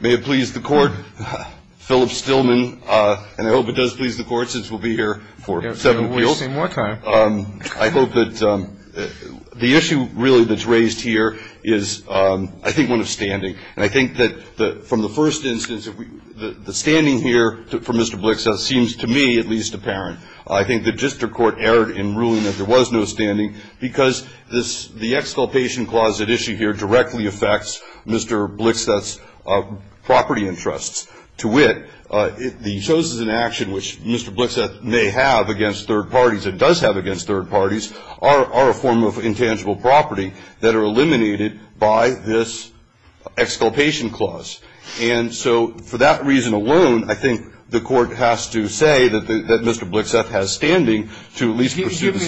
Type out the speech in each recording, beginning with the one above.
May it please the court, Philip Stillman, and I hope it does please the court since we'll be here for seven weeks. I hope that the issue really that's raised here is, I think, one of standing. And I think that from the first instance, the standing here for Mr. Blixseth seems to me at least apparent. I think that just the court erred in ruling that there was no standing because the exculpation clause at issue here directly affects Mr. Blixseth's property interests. To wit, the Chosen in Action, which Mr. Blixseth may have against third parties, or does have against third parties, are a form of intangible property that are eliminated by this exculpation clause. And so for that reason alone, I think the court has to say that Mr. Blixseth has standing to at least pursue the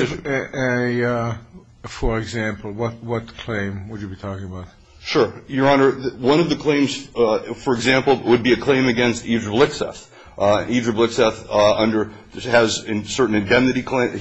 issue. For example, what claim would you be talking about? Sure, Your Honor. One of the claims, for example, would be a claim against Evdra Blixseth. Evdra Blixseth has certain indemnity claims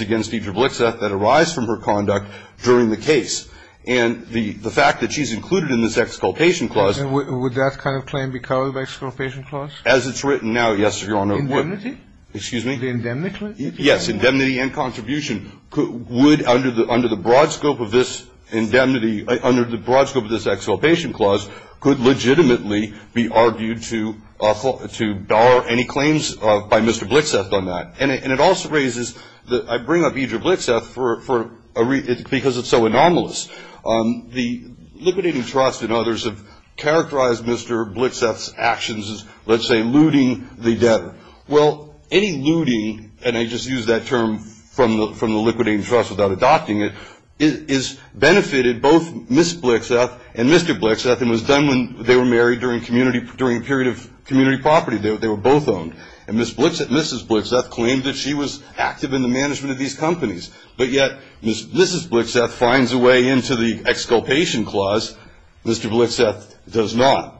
against Evdra Blixseth that arise from her conduct during the case. And the fact that she's included in this exculpation clause. Would that kind of claim be covered by exculpation clause? As it's written now, yes, Your Honor. Indemnity? Excuse me? You mean the indemnity? Yes, indemnity and contribution would, under the broad scope of this indemnity, under the broad scope of this exculpation clause, could legitimately be argued to bar any claims by Mr. Blixseth on that. And it also raises, I bring up Evdra Blixseth because it's so anomalous. The Liquidating Trust and others have characterized Mr. Blixseth's actions as, let's say, looting the debtor. Well, any looting, and I just use that term from the Liquidating Trust without adopting it, has benefited both Ms. Blixseth and Mr. Blixseth and was done when they were married during a period of community property. They were both owned. And Mrs. Blixseth claims that she was active in the management of these companies. But yet, Mrs. Blixseth finds a way into the exculpation clause. Mr. Blixseth does not.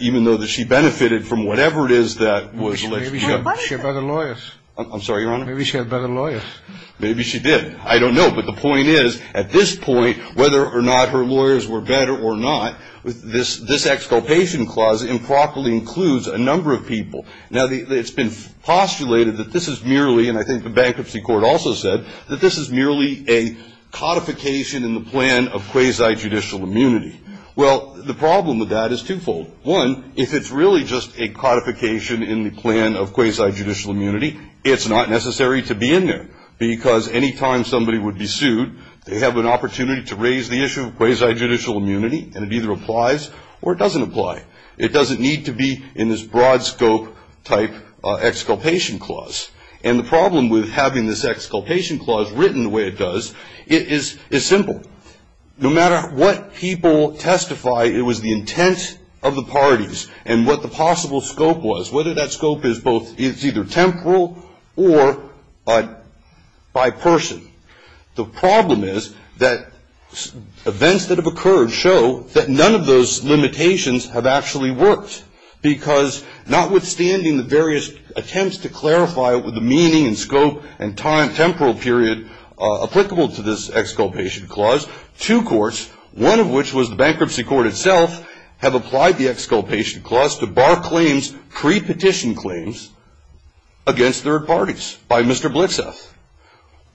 Even though she benefited from whatever it is that was alleged. Maybe she had better lawyers. I'm sorry, Your Honor? Maybe she had better lawyers. Maybe she did. I don't know. But the point is, at this point, whether or not her lawyers were better or not, this exculpation clause improperly includes a number of people. Now, it's been postulated that this is merely, and I think the Bankruptcy Court also said, that this is merely a codification in the plan of quasi-judicial immunity. Well, the problem with that is twofold. One, if it's really just a codification in the plan of quasi-judicial immunity, it's not necessary to be in there. Because any time somebody would be sued, they have an opportunity to raise the issue of quasi-judicial immunity, and it either applies or it doesn't apply. It doesn't need to be in this broad scope type exculpation clause. And the problem with having this exculpation clause written the way it does, it is simple. No matter what people testify, it was the intent of the parties and what the possible scope was, whether that scope is either temporal or by person. The problem is that events that have occurred show that none of those limitations have actually worked. Because notwithstanding the various attempts to clarify the meaning and scope and temporal period applicable to this exculpation clause, two courts, one of which was the Bankruptcy Court itself, have applied the exculpation clause to bar claims, pre-petition claims, against third parties by Mr. Blixoff.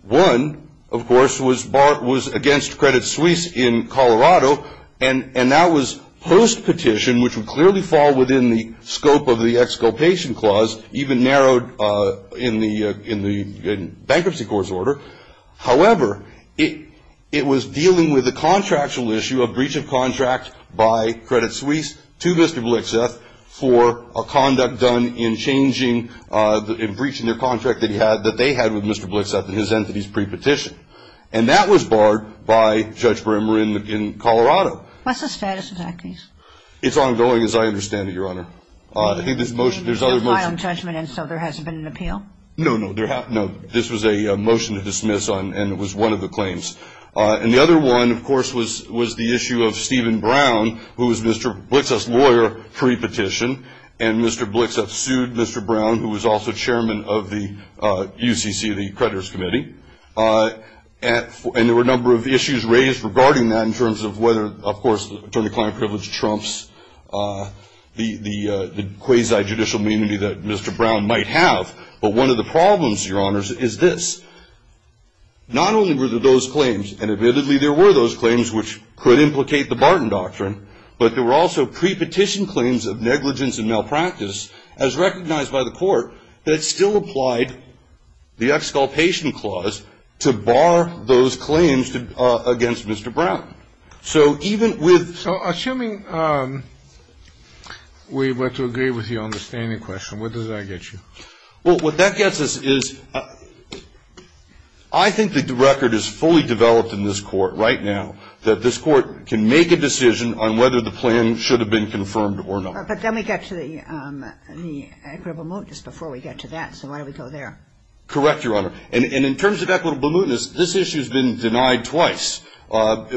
One, of course, was against Credit Suisse in Colorado, and that was post-petition, which would clearly fall within the scope of the exculpation clause, even narrowed in the Bankruptcy Court's order. However, it was dealing with the contractual issue of breach of contract by Credit Suisse to Mr. Blixoff for a conduct done in breaching their contract that they had with Mr. Blixoff in his entity's pre-petition. And that was barred by Judge Bremer in Colorado. What's the status of that case? It's ongoing, as I understand it, Your Honor. I think there's other motions. It's a final judgment, and so there hasn't been an appeal? No, no. This was a motion to dismiss, and it was one of the claims. And the other one, of course, was the issue of Stephen Brown, who was Mr. Blixoff's lawyer pre-petition, and Mr. Blixoff sued Mr. Brown, who was also chairman of the UCC, the Creditors Committee. And there were a number of issues raised regarding that in terms of whether, of course, attorney-client privilege trumps the quasi-judicial immunity that Mr. Brown might have. But one of the problems, Your Honors, is this. Not only were there those claims, and evidently there were those claims which could implicate the Barton Doctrine, but there were also pre-petition claims of negligence and malpractice, as recognized by the court, that still applied the Exculpation Clause to bar those claims against Mr. Brown. So assuming we were to agree with your understanding question, what does that get you? Well, what that gets us is I think that the record is fully developed in this court right now that this court can make a decision on whether the plan should have been confirmed or not. But then we get to the equitable mootness before we get to that, so why don't we go there? Correct, Your Honor. And in terms of equitable mootness, this issue has been denied twice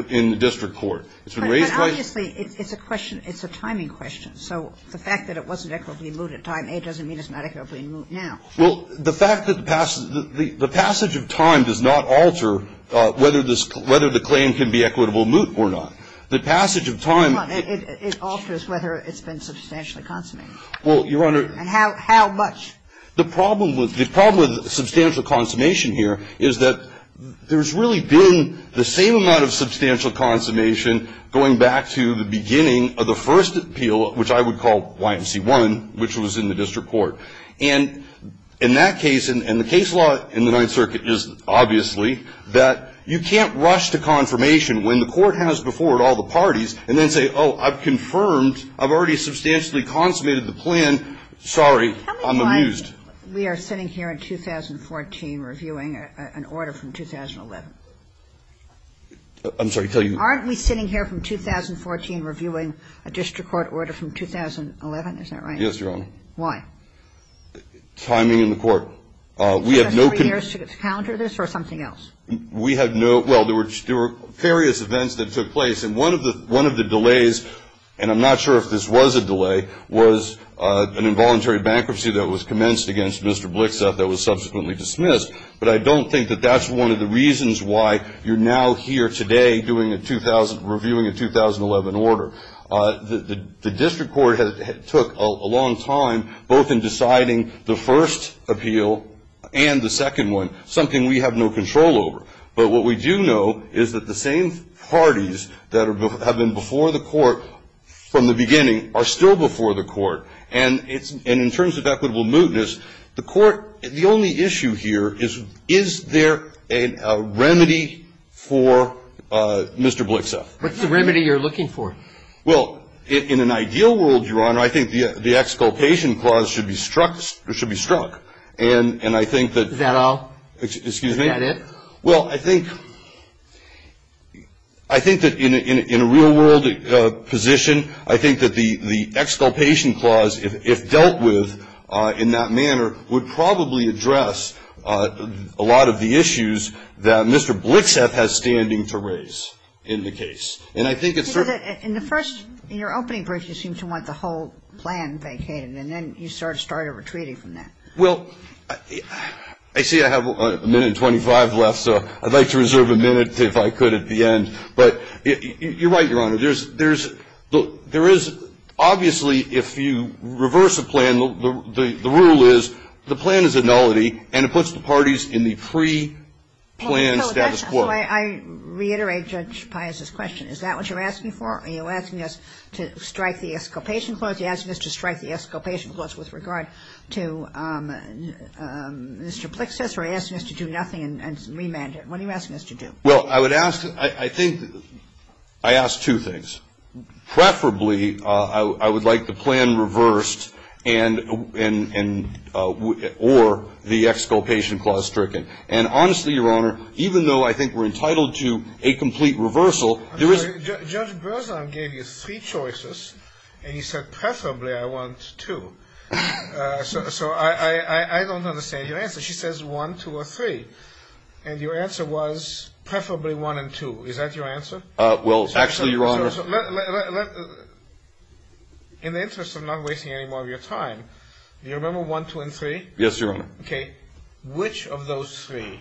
in the district court. But obviously it's a timing question. So the fact that it wasn't equitably moot at time A doesn't mean it's not equitably moot now. Well, the fact that the passage of time does not alter whether the claim can be equitably moot or not. The passage of time- It alters whether it's been substantially consummated. Well, Your Honor- And how much? The problem with substantial consummation here is that there's really been the same amount of substantial consummation going back to the beginning of the first appeal, which I would call YMC1, which was in the district court. And in that case, and the case law in the Ninth Circuit is obviously that you can't rush to confirmation when the court has before it all the parties and then say, oh, I've confirmed, I've already substantially consummated the plan. Sorry, I'm amused. How many times we are sitting here in 2014 reviewing an order from 2011? I'm sorry, tell you- Aren't we sitting here from 2014 reviewing a district court order from 2011? Isn't that right? Yes, Your Honor. Why? Timing in the court. We have no- Three years to counter this or something else? We have no- Well, there were various events that took place. And one of the delays, and I'm not sure if this was a delay, was an involuntary bankruptcy that was commenced against Mr. Blixoff that was subsequently dismissed. But I don't think that that's one of the reasons why you're now here today reviewing a 2011 order. The district court took a long time both in deciding the first appeal and the second one, something we have no control over. But what we do know is that the same parties that have been before the court from the beginning are still before the court. And in terms of equitable mootness, the court, the only issue here is, is there a remedy for Mr. Blixoff? What's the remedy you're looking for? Well, in an ideal world, Your Honor, I think the exculpation clause should be struck. And I think that- Is that all? Excuse me? Is that it? Well, I think that in a real world position, I think that the exculpation clause, if dealt with in that manner, would probably address a lot of the issues that Mr. Blixoff has standing to raise in the case. And I think it's- In the first, in your opening brief, you seemed to want the whole plan vacated. And then you sort of started retreating from that. Well, I see I have a minute and 25 left, so I'd like to reserve a minute, if I could, at the end. But you're right, Your Honor. There's-look, there is-obviously, if you reverse a plan, the rule is the plan is a nullity, and it puts the parties in the pre-plan status quo. I reiterate Judge Pius's question. Is that what you're asking for? Are you asking us to strike the exculpation clause? With regard to Mr. Blixoff, or are you asking us to do nothing and remand it? What are you asking us to do? Well, I would ask-I think I ask two things. Preferably, I would like the plan reversed and-or the exculpation clause stricken. And honestly, Your Honor, even though I think we're entitled to a complete reversal, there is- So I don't understand your answer. She says one, two, or three. And your answer was preferably one and two. Is that your answer? Well, actually, Your Honor- In the interest of not wasting any more of your time, do you remember one, two, and three? Yes, Your Honor. Okay. Which of those three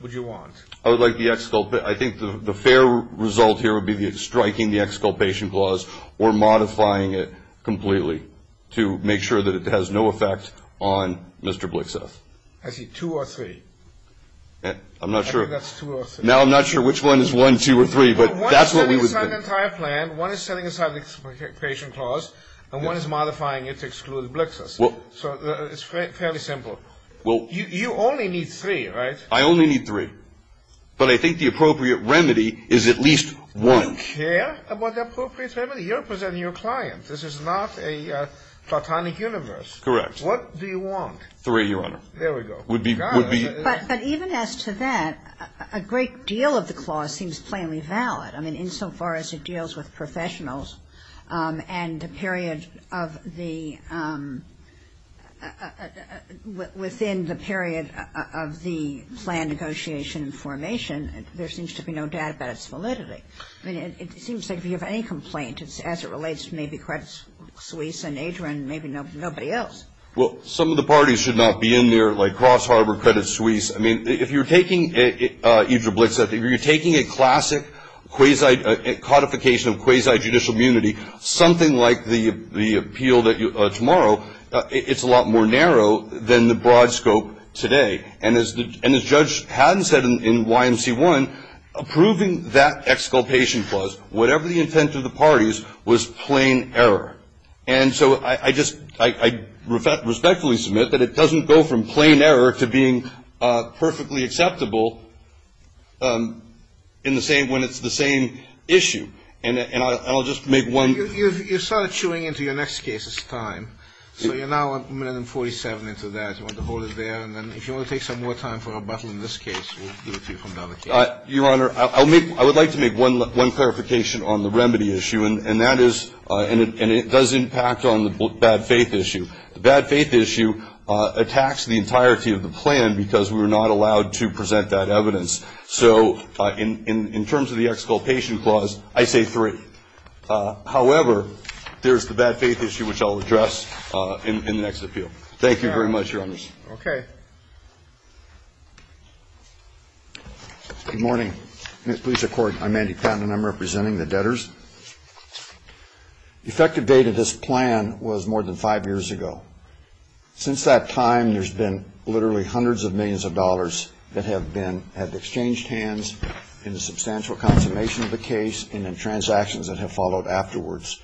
would you want? I would like the exculp-I think the fair result here would be striking the exculpation clause or modifying it completely to make sure that it has no effect on Mr. Blixoff. Actually, two or three. I'm not sure. I think that's two or three. Now I'm not sure which one is one, two, or three, but that's what we would do. One is setting aside the entire plan, one is setting aside the exculpation clause, and one is modifying it to exclude Blixoff. So it's fairly simple. You only need three, right? I only need three. But I think the appropriate remedy is at least one. You care about the appropriate remedy? You're representing your client. This is not a platonic universe. Correct. What do you want? Three, Your Honor. There we go. But even as to that, a great deal of the clause seems plainly valid. I mean, insofar as it deals with professionals and the period of the-within the period of the planned negotiation and formation, there seems to be no doubt about its validity. I mean, it seems like if you have any complaint, it's as it relates to maybe Credit Suisse and Adrian, maybe nobody else. Well, some of the parties should not be in there, like Cross Harbor, Credit Suisse. I mean, if you're taking it, either Blixoff, if you're taking a classic quasi-codification of quasi-judicial immunity, something like the appeal tomorrow, it's a lot more narrow than the broad scope today. And as Judge Haddon said in YMC1, approving that exculpation clause, whatever the intent of the parties, was plain error. And so I respectfully submit that it doesn't go from plain error to being perfectly acceptable in the same-when it's the same issue. And I'll just make one- You're sort of chewing into your next case's time. So you're now a minute and 47 into that. If you want to take some more time for rebuttal in this case, we'll give it to you for another case. Your Honor, I would like to make one clarification on the remedy issue, and that is-and it does impact on the bad faith issue. The bad faith issue attacks the entirety of the plan because we're not allowed to present that evidence. So in terms of the exculpation clause, I say three. However, there's the bad faith issue, which I'll address in the next appeal. Thank you. Thank you very much, Your Honor. Okay. Good morning. I'm Andy Patton, and I'm representing the debtors. The effective date of this plan was more than five years ago. Since that time, there's been literally hundreds of millions of dollars that have been-have exchanged hands in the substantial consummation of the case and in transactions that have followed afterwards.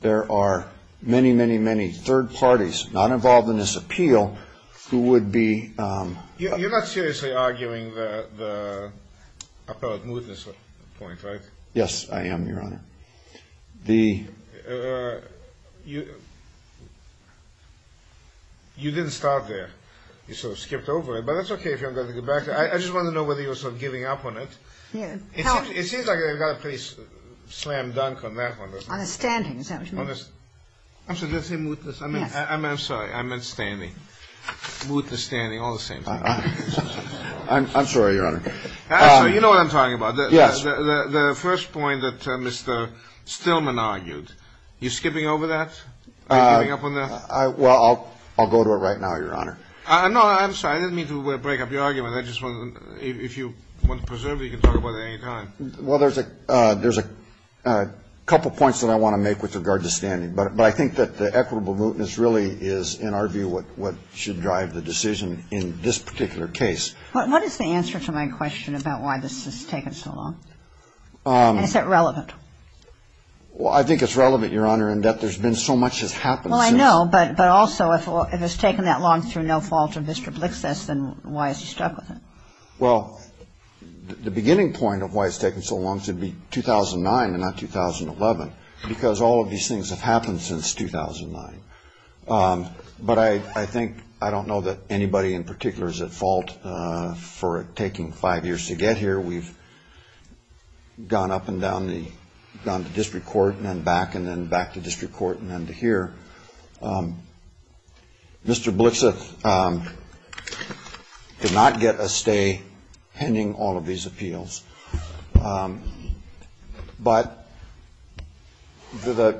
There are many, many, many third parties not involved in this appeal who would be- You're not seriously arguing the appellate mootness point, right? Yes, I am, Your Honor. The- You didn't start there. You sort of skipped over it, but that's okay if you're going to go back. I just wanted to know whether you were sort of giving up on it. It seems like I got a pretty slam dunk on that one, doesn't it? On the standings, don't you mean? On the- I'm sorry, did I say mootness? I meant- Yes. I'm sorry. I meant standing. Mootness, standing, all the same. I'm sorry, Your Honor. Actually, you know what I'm talking about. Yes. The first point that Mr. Stillman argued, you're skipping over that? You're giving up on that? Well, I'll go to it right now, Your Honor. No, I'm sorry. I didn't mean to break up your argument. If you want to preserve it, you can talk about it at any time. Well, there's a couple points that I want to make with regard to standing. But I think that the equitable mootness really is, in our view, what should drive the decision in this particular case. What is the answer to my question about why this has taken so long? And is that relevant? Well, I think it's relevant, Your Honor, in that there's been so much that's happened. Well, I know. But also, if it's taken that long through no fault of Mr. Blix's, then why is he stuck with it? Well, the beginning point of why it's taken so long to be 2009 and not 2011, because all of these things have happened since 2009. But I think I don't know that anybody in particular is at fault for it taking five years to get here. We've gone up and down the district court and then back and then back to district court and then to here. Mr. Blix did not get a stay pending all of his appeals. But the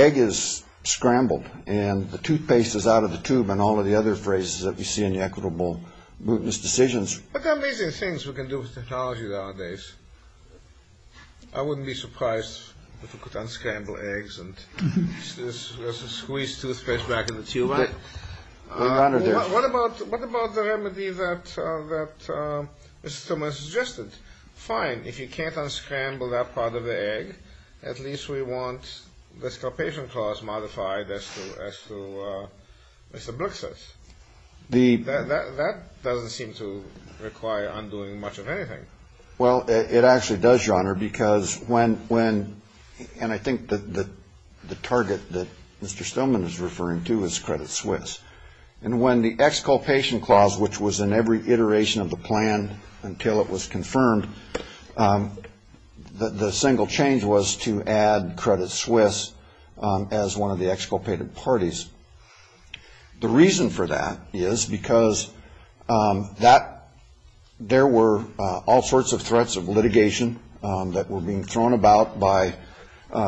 egg is scrambled and the toothpaste is out of the tube and all of the other phrases that we see in the equitable mootness decisions. But there are amazing things we can do with technology nowadays. I wouldn't be surprised if we could unscramble eggs and there's a squeezed toothpaste back in the tube. What about the remedy that Mr. Tillman suggested? Fine. If you can't unscramble that part of the egg, at least we want the starvation clause modified as to Mr. Blix's. The that doesn't seem to require undoing much of anything. Well, it actually does, your honor, because when when and I think that the target that Mr. Stillman is referring to is credit Swiss and when the exculpation clause, which was in every iteration of the plan until it was confirmed, the single change was to add credit Swiss as one of the exculpated parties. The reason for that is because that there were all sorts of threats of litigation that were being thrown about by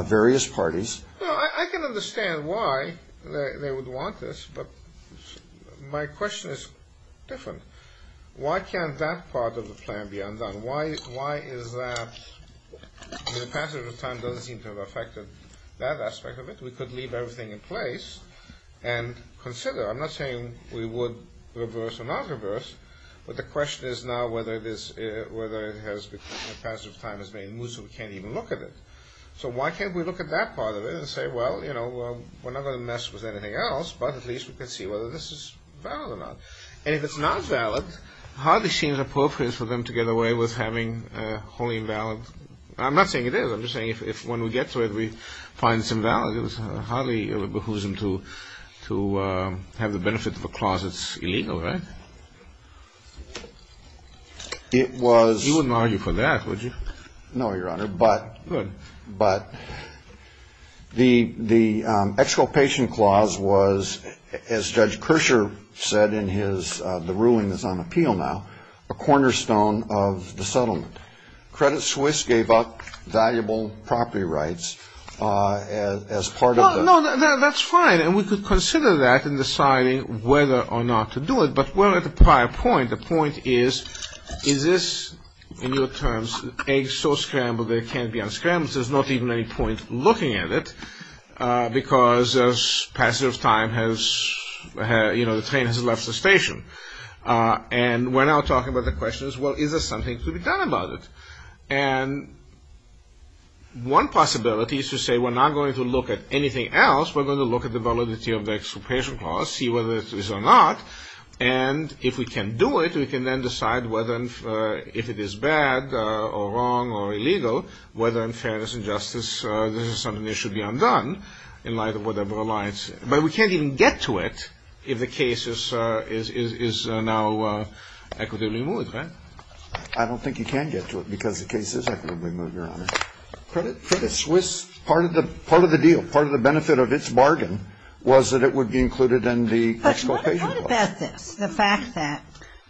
various parties. I can understand why they would want this, but my question is different. Why can't that part of the plan be undone? Why is that? The passage of time doesn't seem to have affected that aspect of it. We could leave everything in place and consider. I'm not saying we would reverse or not reverse, but the question is now whether the passage of time has made it moot so we can't even look at it. So why can't we look at that part of it and say, well, you know, we're not going to mess with anything else. But at least we could see whether this is valid or not. And if it's not valid, hardly seems appropriate for them to get away with having a wholly invalid. I'm not saying it is. I'm just saying if when we get to it, we find it's invalid. It was hardly behooves him to to have the benefit of a clause. It's illegal. It was. You wouldn't argue for that, would you? No, Your Honor. But but the the exculpation clause was, as Judge Kershaw said in his. The ruling is on appeal now. A cornerstone of the settlement. Credit Swiss gave up valuable property rights as part of. No, that's fine. And we could consider that in deciding whether or not to do it. But we're at the prior point. The point is, is this, in your terms, eggs so scrambled they can't be unscrambled. There's not even any point looking at it because as passage of time has, you know, the train has left the station. And we're now talking about the question as well. Is there something to be done about it? And one possibility is to say, we're not going to look at anything else. We're going to look at the validity of the exculpation policy, whether it is or not. And if we can do it, we can then decide whether if it is bad or wrong or illegal, whether in fairness and justice, this is something that should be undone in light of whatever alliance. But we can't even get to it. If the case is now equitably moved. I don't think you can get to it because the case is equitably moved, Your Honor. Credit Swiss, part of the deal, part of the benefit of its bargain was that it would be included in the exculpation. The fact that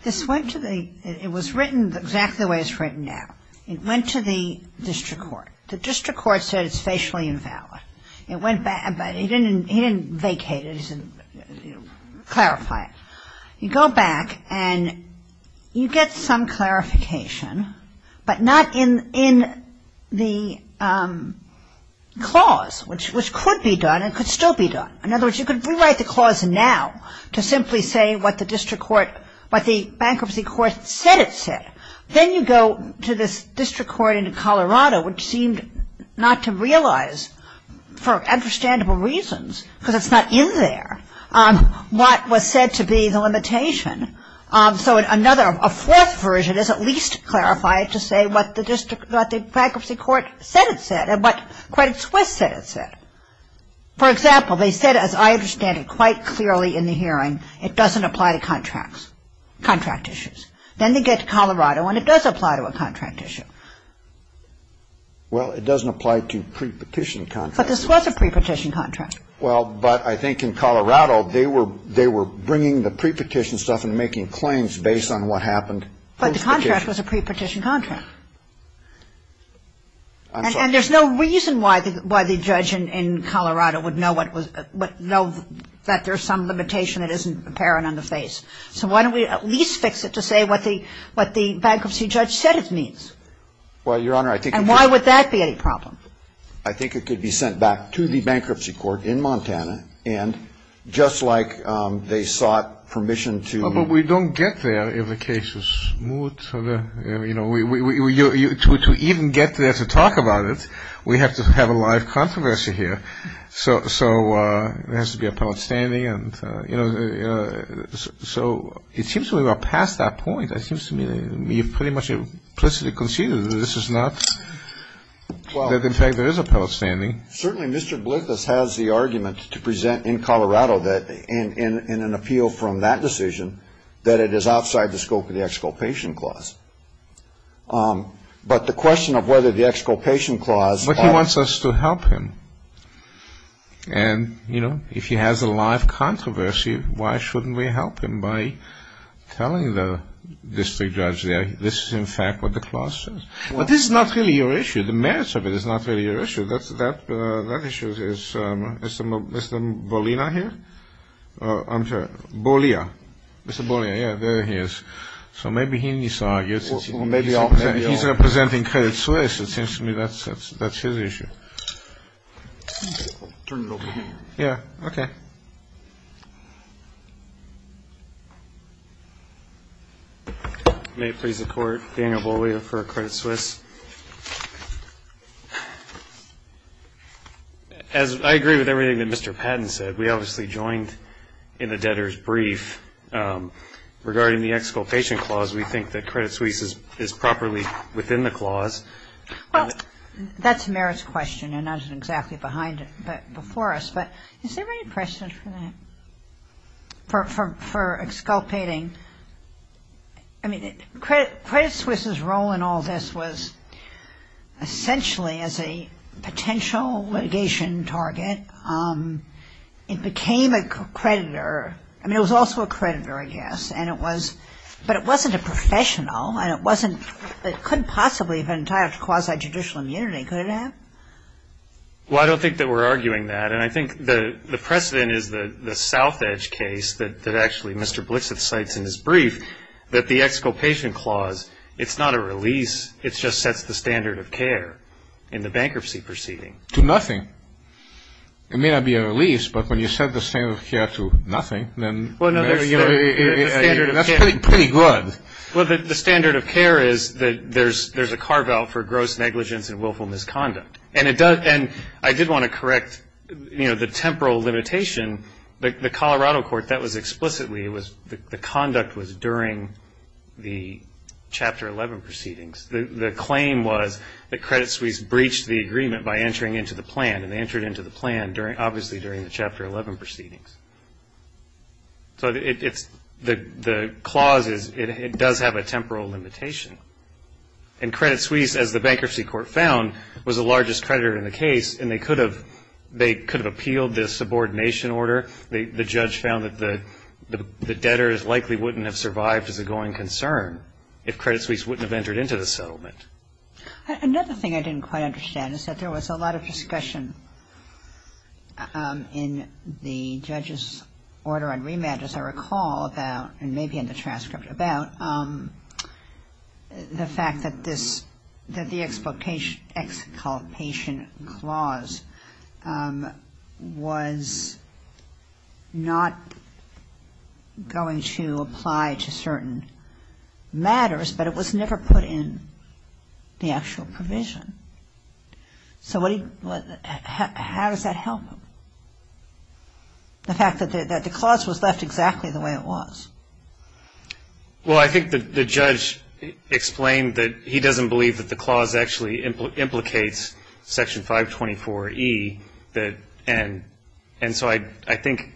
this went to the, it was written exactly the way it's written now. It went to the district court. The district court said it's facially invalid. It went back, but he didn't vacate it, he didn't clarify it. You go back and you get some clarification, but not in the clause, which could be done, it could still be done. In other words, you could rewrite the clause now to simply say what the district court, what the bankruptcy court said it said. Then you go to the district court in Colorado, which seemed not to realize, for understandable reasons, because it's not in there, what was said to be the limitation. So another, a fourth version is at least clarified to say what the district, what the bankruptcy court said it said and what Credit Swiss said it said. For example, they said, as I understand it quite clearly in the hearing, it doesn't apply to contracts, contract issues. Then they get to Colorado and it does apply to a contract issue. Well, it doesn't apply to pre-petition contracts. But this was a pre-petition contract. Well, but I think in Colorado, they were bringing the pre-petition stuff and making claims based on what happened. But the contract was a pre-petition contract. And there's no reason why the judge in Colorado would know that there's some limitation that isn't apparent on the face. So why don't we at least fix it to say what the bankruptcy judge said it means? Well, Your Honor, I think you could. And why would that be a problem? I think it could be sent back to the bankruptcy court in Montana. And just like they sought permission to... Well, but we don't get there if the case is smooth. You know, to even get there to talk about it, we have to have a live controversy here. So there has to be a public standing. So it seems to me we're past that point. It seems to me pretty much implicitly conceded that this is not, that in fact there is a public standing. Certainly, Mr. Blithus has the arguments to present in Colorado that in an appeal from that decision, that it is outside the scope of the exculpation clause. But the question of whether the exculpation clause... But he wants us to help him. And, you know, if he has a live controversy, why shouldn't we help him by telling the district judge that this is in fact what the clause says? But this is not really your issue. The merits of it is not really your issue. That issue is Mr. Bolina here? I'm sorry, Bolia. Mr. Bolia, yeah, there he is. So maybe he needs to argue. He's not presenting Credit Suisse. It seems to me that's his issue. Yeah, okay. May it please the Court, Daniel Bolina for Credit Suisse. As I agree with everything that Mr. Patton said, we obviously joined in the debtor's brief. Regarding the exculpation clause, we think that Credit Suisse is properly within the clause. That's Merit's question, and that's exactly behind it, but before us. But is there any questions for that, for exculpating? I mean, Credit Suisse's role in all this was essentially as a potential litigation target. It became a creditor. I mean, it was also a creditor, yes, and it was, but it wasn't a professional, and it wasn't, it couldn't possibly have been tariffed because of judicial immunity, could it have? Well, I don't think that we're arguing that, and I think the precedent is the South Edge case that actually Mr. Blixit cites in his brief, that the exculpation clause, it's not a release. It just sets the standard of care in the bankruptcy proceeding. To nothing. It may not be a release, but when you set the standard of care to nothing, then that's pretty good. The standard of care is that there's a carve-out for gross negligence and willful misconduct, and I did want to correct the temporal limitation. The Colorado court, that was explicitly, the conduct was during the Chapter 11 proceedings. The claim was that Credit Suisse breached the agreement by entering into the plan, and they entered into the plan obviously during the Chapter 11 proceedings. So the clause, it does have a temporal limitation, and Credit Suisse, as the bankruptcy court found, was the largest creditor in the case, and they could have appealed this subordination order. The judge found that the debtors likely wouldn't have survived as a going concern if Credit Suisse wouldn't have entered into the settlement. Another thing I didn't quite understand is that there was a lot of discussion in the judge's order on rematch, as I recall about, and maybe in the transcript about, the fact that the exploitation clause was not going to apply to certain matters, but it was never put in the actual provision. So how does that help? The fact that the clause was left exactly the way it was. Well, I think the judge explained that he doesn't believe that the clause actually implicates Section 524E, and so I think,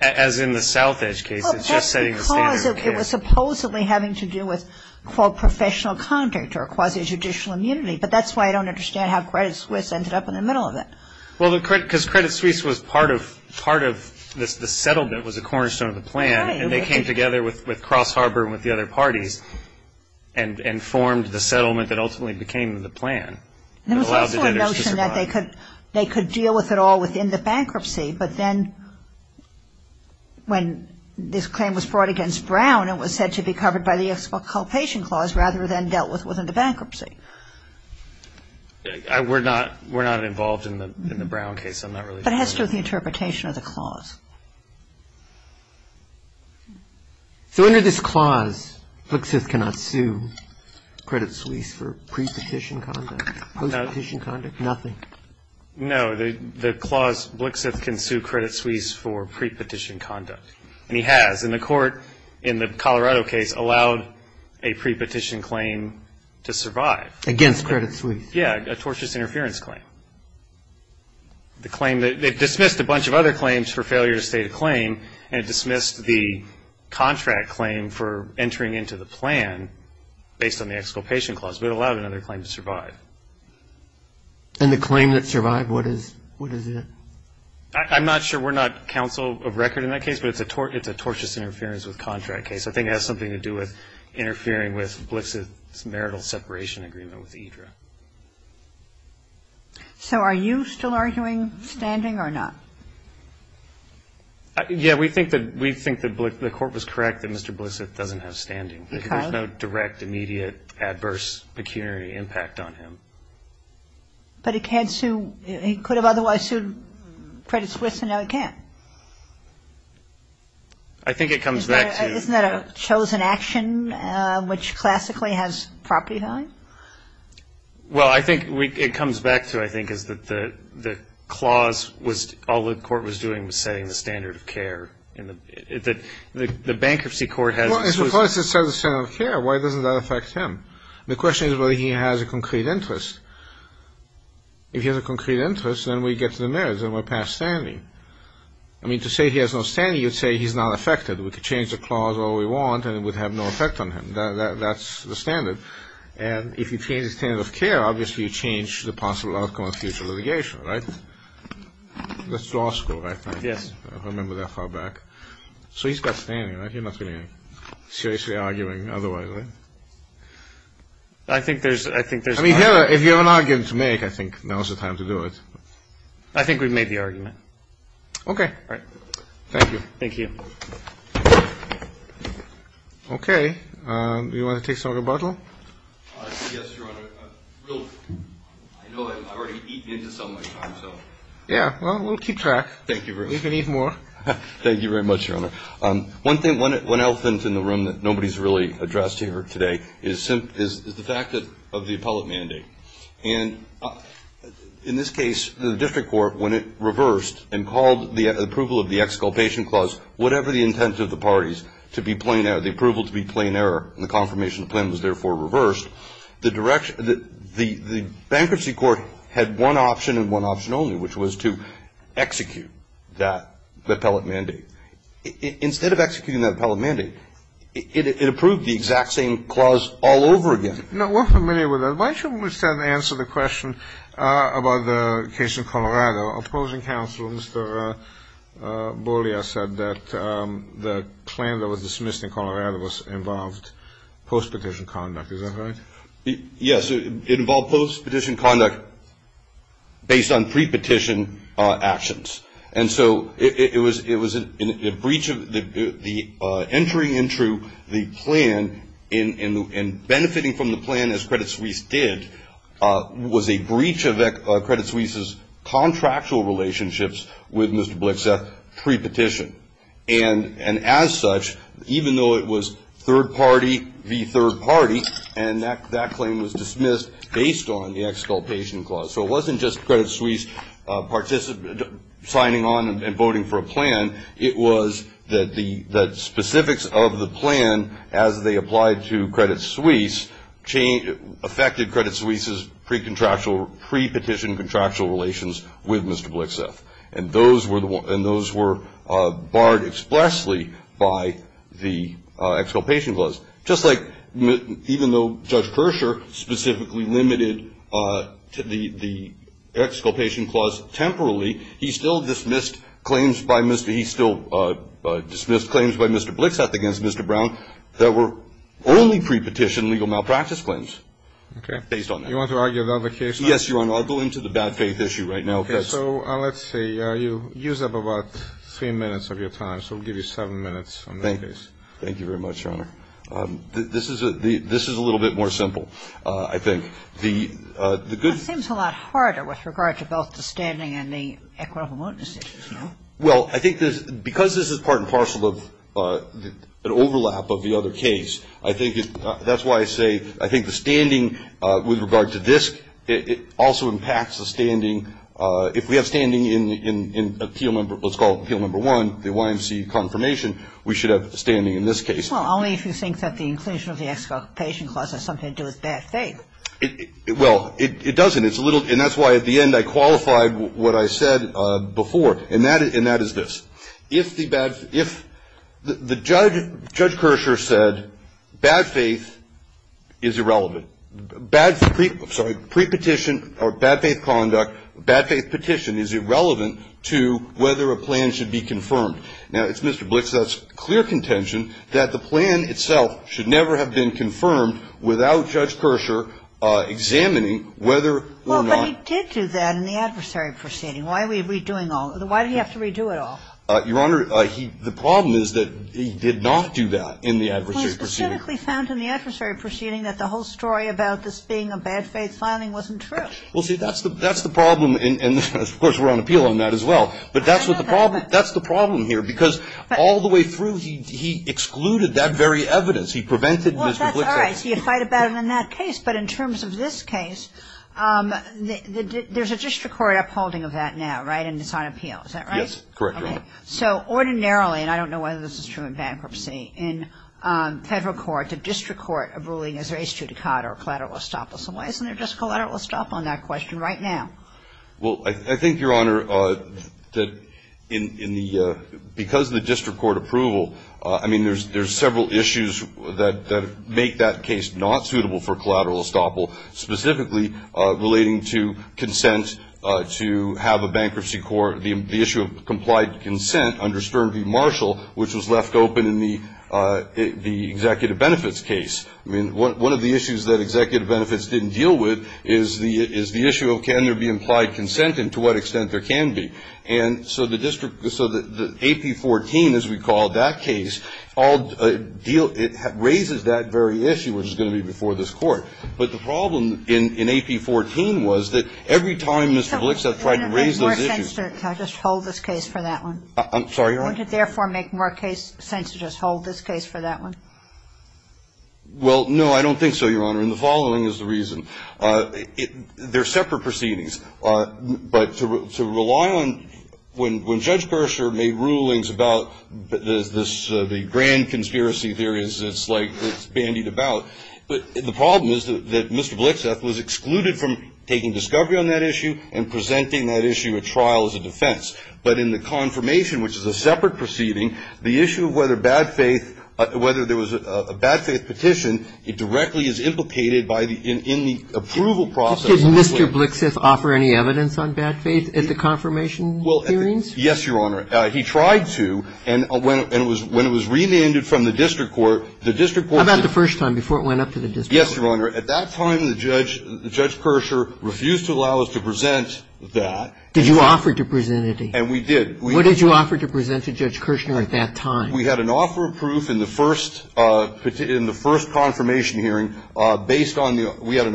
as in the South Edge case, it's just setting the standard. Well, just because it was supposedly having to do with, quote, professional conduct, or quasi-judicial immunity, but that's why I don't understand how Credit Suisse ended up in the middle of it. Well, because Credit Suisse was part of the settlement, was a cornerstone of the plan, and they came together with Cross Harbor and with the other parties and formed the settlement that ultimately became the plan that allowed the debtors to survive. There was also a notion that they could deal with it all within the bankruptcy, but then when this claim was brought against Brown, it was said to be covered by the exculpation clause rather than dealt with within the bankruptcy. We're not involved in the Brown case. But it has to do with the interpretation of the clause. So under this clause, Blixith cannot sue Credit Suisse for pre-petition conduct, post-petition conduct, nothing? No, the clause, Blixith can sue Credit Suisse for pre-petition conduct, and he has. And the court in the Colorado case allowed a pre-petition claim to survive. Against Credit Suisse? Yeah, a tortious interference claim. They dismissed a bunch of other claims for failure to state a claim, and dismissed the contract claim for entering into the plan based on the exculpation clause, but it allowed another claim to survive. And the claim that survived, what is it? I'm not sure. We're not counsel of record in that case, but it's a tortious interference with contract case. I think it has something to do with interfering with Blixith's marital separation agreement with Idra. So are you still arguing standing or not? Yeah, we think that the court was correct that Mr. Blixith doesn't have standing. There's no direct, immediate, adverse, pecuniary impact on him. But he can't sue. He could have otherwise sued Credit Suisse, and now he can't. I think it comes back to... Isn't that a chosen action, which classically has property rights? Well, I think it comes back to, I think, is that the clause was, all the court was doing was setting the standard of care. The bankruptcy court had... Well, it's the clause that set the standard of care. Why doesn't that affect him? The question is whether he has a concrete interest. If he has a concrete interest, then we get to the merits, and we're past standing. I mean, to say he has no standing, you'd say he's not affected. We could change the clause all we want, and it would have no effect on him. That's the standard. And if you change the standard of care, obviously you change the possible outcome of future litigation, right? That's law school, right? Yes. I remember that far back. So he's got standing, right? He's not seriously arguing otherwise, right? I think there's... I mean, if you have an argument to make, I think now's the time to do it. I think we'd make the argument. Okay. All right. Thank you. Thank you. Okay. You want to take some rebuttal? I guess you're on a real... I know I've already eaten into so much time, so... Yeah. Well, we'll keep track. Thank you very much. We can eat more. Thank you very much, Your Honor. One thing, one elephant in the room that nobody's really addressed here today is the fact of the appellate mandate. And in this case, the district court, when it reversed and called the approval of the exculpation clause, whatever the intent of the parties, to be plain error, the approval to be plain error, and the confirmation of the plan was therefore reversed, the bankruptcy court had one option and one option only, which was to execute that appellate mandate. Instead of executing that appellate mandate, it approved the exact same clause all over again. No, we're familiar with that. Why don't we start and answer the question about the case in Colorado. Opposing counsel, Mr. Bollier, said that the plan that was dismissed in Colorado involved post-petition conduct. Is that right? Yes. It involved post-petition conduct based on pre-petition actions. And so it was a breach of the entry into the plan and benefiting from the plan, as Credit Suisse did, was a breach of Credit Suisse's contractual relationships with Mr. Blixeth pre-petition. And as such, even though it was third party v. third party, and that claim was dismissed based on the exculpation clause. So it wasn't just Credit Suisse signing on and voting for a plan, it was that the specifics of the plan as they applied to Credit Suisse affected Credit Suisse's pre-petition contractual relations with Mr. Blixeth, and those were barred expressly by the exculpation clause. Just like even though Judge Kersher specifically limited the exculpation clause temporarily, he still dismissed claims by Mr. Blixeth against Mr. Brown that were only pre-petition legal malpractice claims. Okay. Based on that. You want to argue another case? Yes, Your Honor. I'll go into the bad faith issue right now. Okay. So let's say you use up about three minutes of your time, so we'll give you seven minutes on that case. Thank you very much, Your Honor. This is a little bit more simple, I think. It seems a lot harder with regard to both the standing and the equivalent. Well, I think because this is part and parcel of an overlap of the other case, I think that's why I say I think the standing with regard to this, it also impacts the standing. If we have standing in what's called appeal number one, the YMCA confirmation, we should have standing in this case. Well, only if you think that the inclusion of the exculpation clause has something to do with bad faith. Well, it doesn't, and that's why at the end I qualified what I said before, and that is this. If the judge, Judge Kersher, said bad faith is irrelevant, pre-petition or bad faith conduct, bad faith petition is irrelevant to whether a plan should be confirmed. Now, Mr. Blix, that's clear contention that the plan itself should never have been confirmed without Judge Kersher examining whether or not. Well, but he did do that in the adversary proceeding. Why are we redoing all of it? Why did he have to redo it all? Your Honor, the problem is that he did not do that in the adversary proceeding. He specifically found in the adversary proceeding that the whole story about this being a bad faith planning wasn't true. Well, see, that's the problem, and of course we're on appeal on that as well, but that's the problem here, because all the way through he excluded that very evidence. He prevented this conflict. Well, that's all right. He had fighted about it in that case, but in terms of this case, there's a district court upholding of that now, right, and it's on appeal. Is that right? Yes, correct, Your Honor. All right. So ordinarily, and I don't know whether this is true in bankruptcy, in federal courts, a district court abiding as res judicata or collateral estoppel. So why isn't there just collateral estoppel on that question right now? Well, I think, Your Honor, that because of the district court approval, I mean, there's several issues that make that case not suitable for collateral estoppel, specifically relating to consent to have a bankruptcy court. The issue of complied consent under Stern v. Marshall, which was left open in the executive benefits case. I mean, one of the issues that executive benefits didn't deal with is the issue of can there be implied consent and to what extent there can be. And so the AP14, as we call that case, raises that very issue, which is going to be before this court. But the problem in AP14 was that every time Mr. Vliksa tried to raise those issues. Can I just hold this case for that one? I'm sorry, Your Honor? Would it therefore make more sense to just hold this case for that one? Well, no, I don't think so, Your Honor, and the following is the reason. They're separate proceedings. But to rely on when Judge Berger made rulings about the grand conspiracy theories it's bandied about. But the problem is that Mr. Vliksa was excluded from taking discovery on that issue and presenting that issue at trial as a defense. But in the confirmation, which is a separate proceeding, the issue of whether there was a bad faith petition, it directly is implicated in the approval process. Did Mr. Vliksa offer any evidence on bad faith at the confirmation hearings? Yes, Your Honor. He tried to, and when it was relented from the district court. How about the first time, before it went up to the district court? Yes, Your Honor. At that time, Judge Kirschner refused to allow us to present that. Did you offer to present it? And we did. What did you offer to present to Judge Kirschner at that time? We had an offer of proof in the first confirmation hearing based on the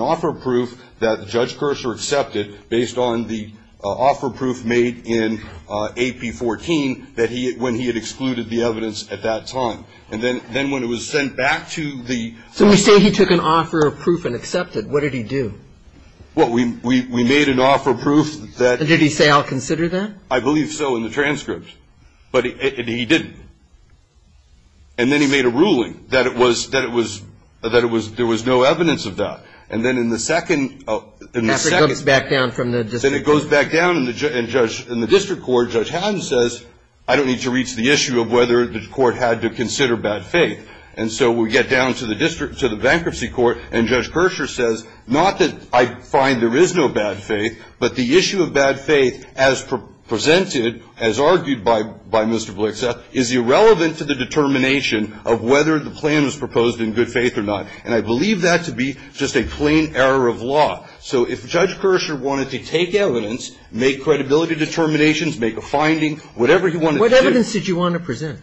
offer of proof that Judge Kirschner accepted based on the offer of proof made in AP14 when he had excluded the evidence at that time. And then when it was sent back to the... So you say he took an offer of proof and accepted. What did he do? Well, we made an offer of proof that... And did he say, I'll consider that? I believe so in the transcript. But he didn't. And then he made a ruling that it was, that it was, that it was, there was no evidence of that. And then in the second... After it goes back down from the district court. Then it goes back down and the judge, and the district court, Judge Hatton says, I don't need to reach the issue of whether the court had to consider bad faith. And so we get down to the district, to the bankruptcy court, and Judge Kirschner says, not that I find there is no bad faith, but the issue of bad faith as presented, as argued by Mr. Blixa, is irrelevant to the determination of whether the plan was proposed in good faith or not. And I believe that to be just a plain error of law. So if Judge Kirschner wanted to take evidence, make credibility determinations, make a finding, whatever he wanted to do... What evidence did you want to present?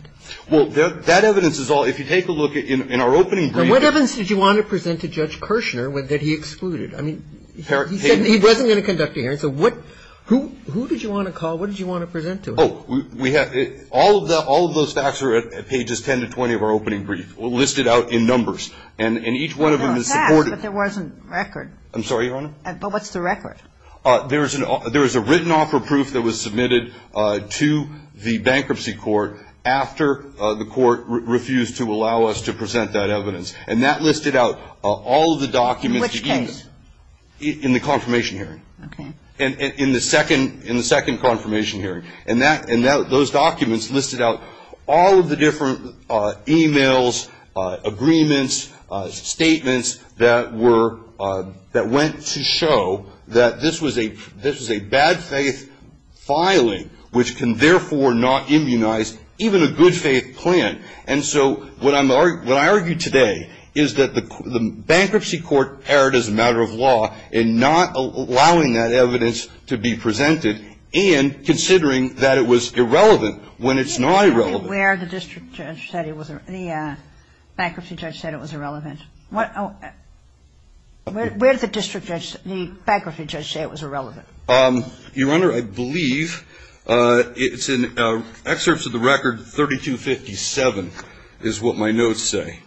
Well, that evidence is all, if you take a look at, in our opening brief... What evidence did you want to present to Judge Kirschner that he excluded? I mean, he said he wasn't going to conduct the hearing. So what, who, who did you want to call? What did you want to present to him? Oh, we have, all of the, all of those facts are at pages 10 to 20 of our opening brief, listed out in numbers. And each one of them is... There's a fact, but there wasn't a record. I'm sorry, Your Honor? But what's the record? There's a written offer proof that was submitted to the bankruptcy court after the court refused to allow us to present that evidence. And that listed out all of the documents... In which case? In the confirmation hearing. Okay. In the second, in the second confirmation hearing. And that, and those documents listed out all of the different emails, agreements, statements, that were, that went to show that this was a, this was a bad faith filing, which can therefore not immunize even a good faith client. And so what I'm, what I argue today is that the bankruptcy court erred as a matter of law in not allowing that evidence to be presented and considering that it was irrelevant when it's not irrelevant. Where the district judge said it was, the bankruptcy judge said it was irrelevant. What, where did the district judge, the bankruptcy judge say it was irrelevant? Your Honor, I believe it's in excerpts of the record 3257 is what my notes say.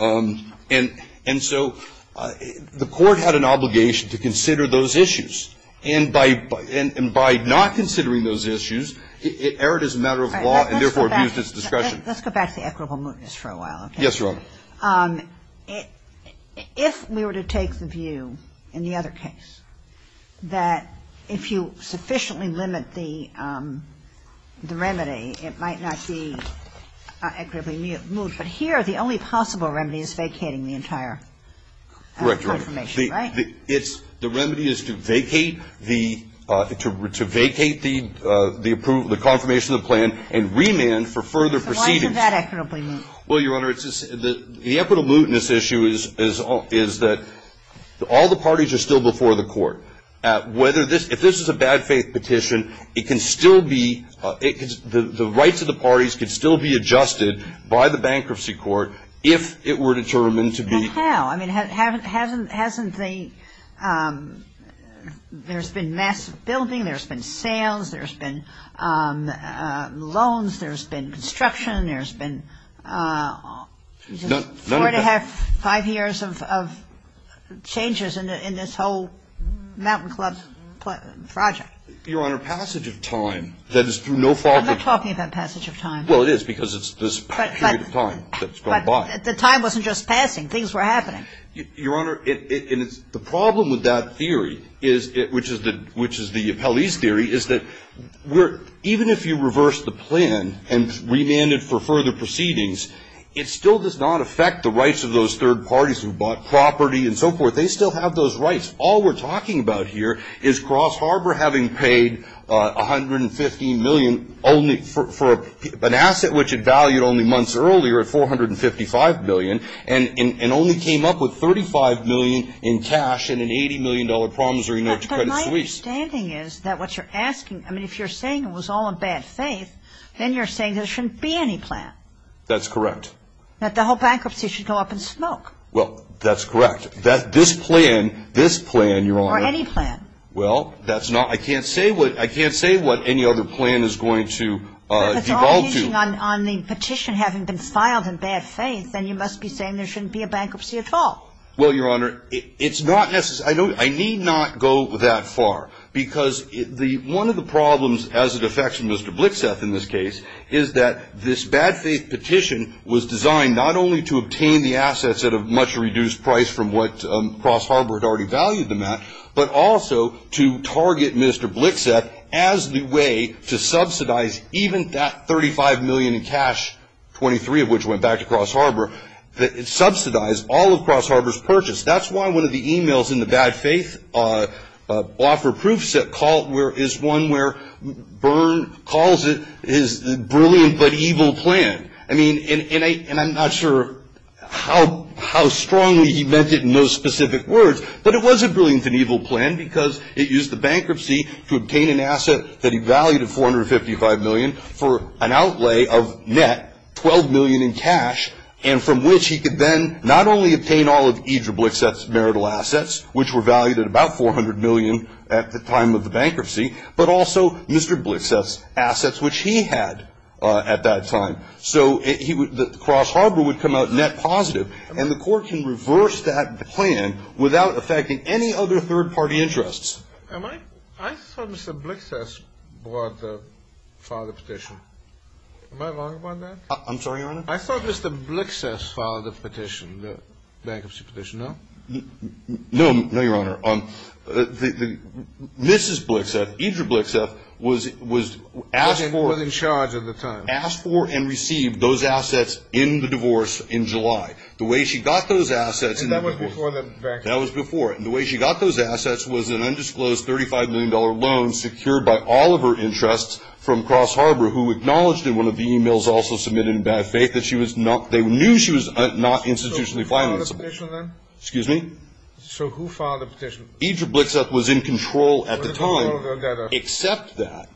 And so the court had an obligation to consider those issues. And by not considering those issues, it erred as a matter of law and therefore abused its discretion. Let's go back to equitable mootness for a while. Yes, Your Honor. If we were to take the view in the other case, that if you sufficiently limit the remedy, it might not be equitably moot. But here the only possible remedy is vacating the entire confirmation, right? The remedy is to vacate the, to vacate the approval, the confirmation of the plan and remand for further proceedings. Why is that equitably moot? Well, Your Honor, the equitable mootness issue is that all the parties are still before the court. Whether this, if this is a bad faith petition, it can still be, the rights of the parties can still be adjusted by the bankruptcy court if it were determined to be. And how? I mean, hasn't the, there's been massive building, there's been sales, there's been loans, there's been construction, there's been four and a half, five years of changes in this whole mountain club project. Your Honor, passage of time, that is through no fault of the court. I'm not talking about passage of time. Well, it is because it's this period of time that's gone by. But the time wasn't just passing. Things were happening. Your Honor, the problem with that theory is, which is the, which is the Appellee's theory, is that even if you reverse the plan and remand it for further proceedings, it still does not affect the rights of those third parties who bought property and so forth. They still have those rights. All we're talking about here is Cross Harbor having paid $115 million only for an asset which it valued only months earlier at $455 million and only came up with $35 million in cash and an $80 million promissory note to cut its lease. But my understanding is that what you're asking, I mean, if you're saying it was all in bad faith, then you're saying there shouldn't be any plan. That's correct. That the whole bankruptcy should go up in smoke. Well, that's correct. That this plan, this plan, Your Honor. Or any plan. Well, that's not, I can't say what, I can't say what any other plan is going to be bound to. If you're speaking on the petition having been filed in bad faith, then you must be saying there shouldn't be a bankruptcy at all. Well, Your Honor, it's not necessary, I need not go that far. Because one of the problems as it affects Mr. Blixeth in this case is that this bad faith petition was designed not only to obtain the assets at a much reduced price from what Cross Harbor had already valued them at, but also to target Mr. Blixeth as the way to subsidize even that $35 million in cash, 23 of which went back to Cross Harbor, subsidize all of Cross Harbor's purchase. That's why one of the emails in the bad faith offer proofs is one where Byrne calls it his brilliant but evil plan. And I'm not sure how strongly he meant it in those specific words. But it was a brilliant and evil plan because it used the bankruptcy to obtain an asset that he valued at $455 million for an outlay of net $12 million in cash, and from which he could then not only obtain all of E.J. Blixeth's marital assets, which were valued at about $400 million at the time of the bankruptcy, but also Mr. Blixeth's assets, which he had at that time. So Cross Harbor would come out net positive, and the court can reverse that plan without affecting any other third-party interests. I thought Mr. Blixeth filed the petition. Am I wrong about that? I'm sorry, Your Honor? I thought Mr. Blixeth filed the petition, the bankruptcy petition, no? No, Your Honor. Mrs. Blixeth, E.J. Blixeth, was asked for... Was in charge at the time. Was asked for and received those assets in the divorce in July. The way she got those assets... And that was before the bankruptcy. That was before. The way she got those assets was an undisclosed $35 million loan secured by all of her interests from Cross Harbor, who acknowledged in one of the e-mails also submitted in bad faith that she was not... they knew she was not institutionally financeable. So who filed the petition then? Excuse me? So who filed the petition? E.J. Blixeth was in control at the time. Except that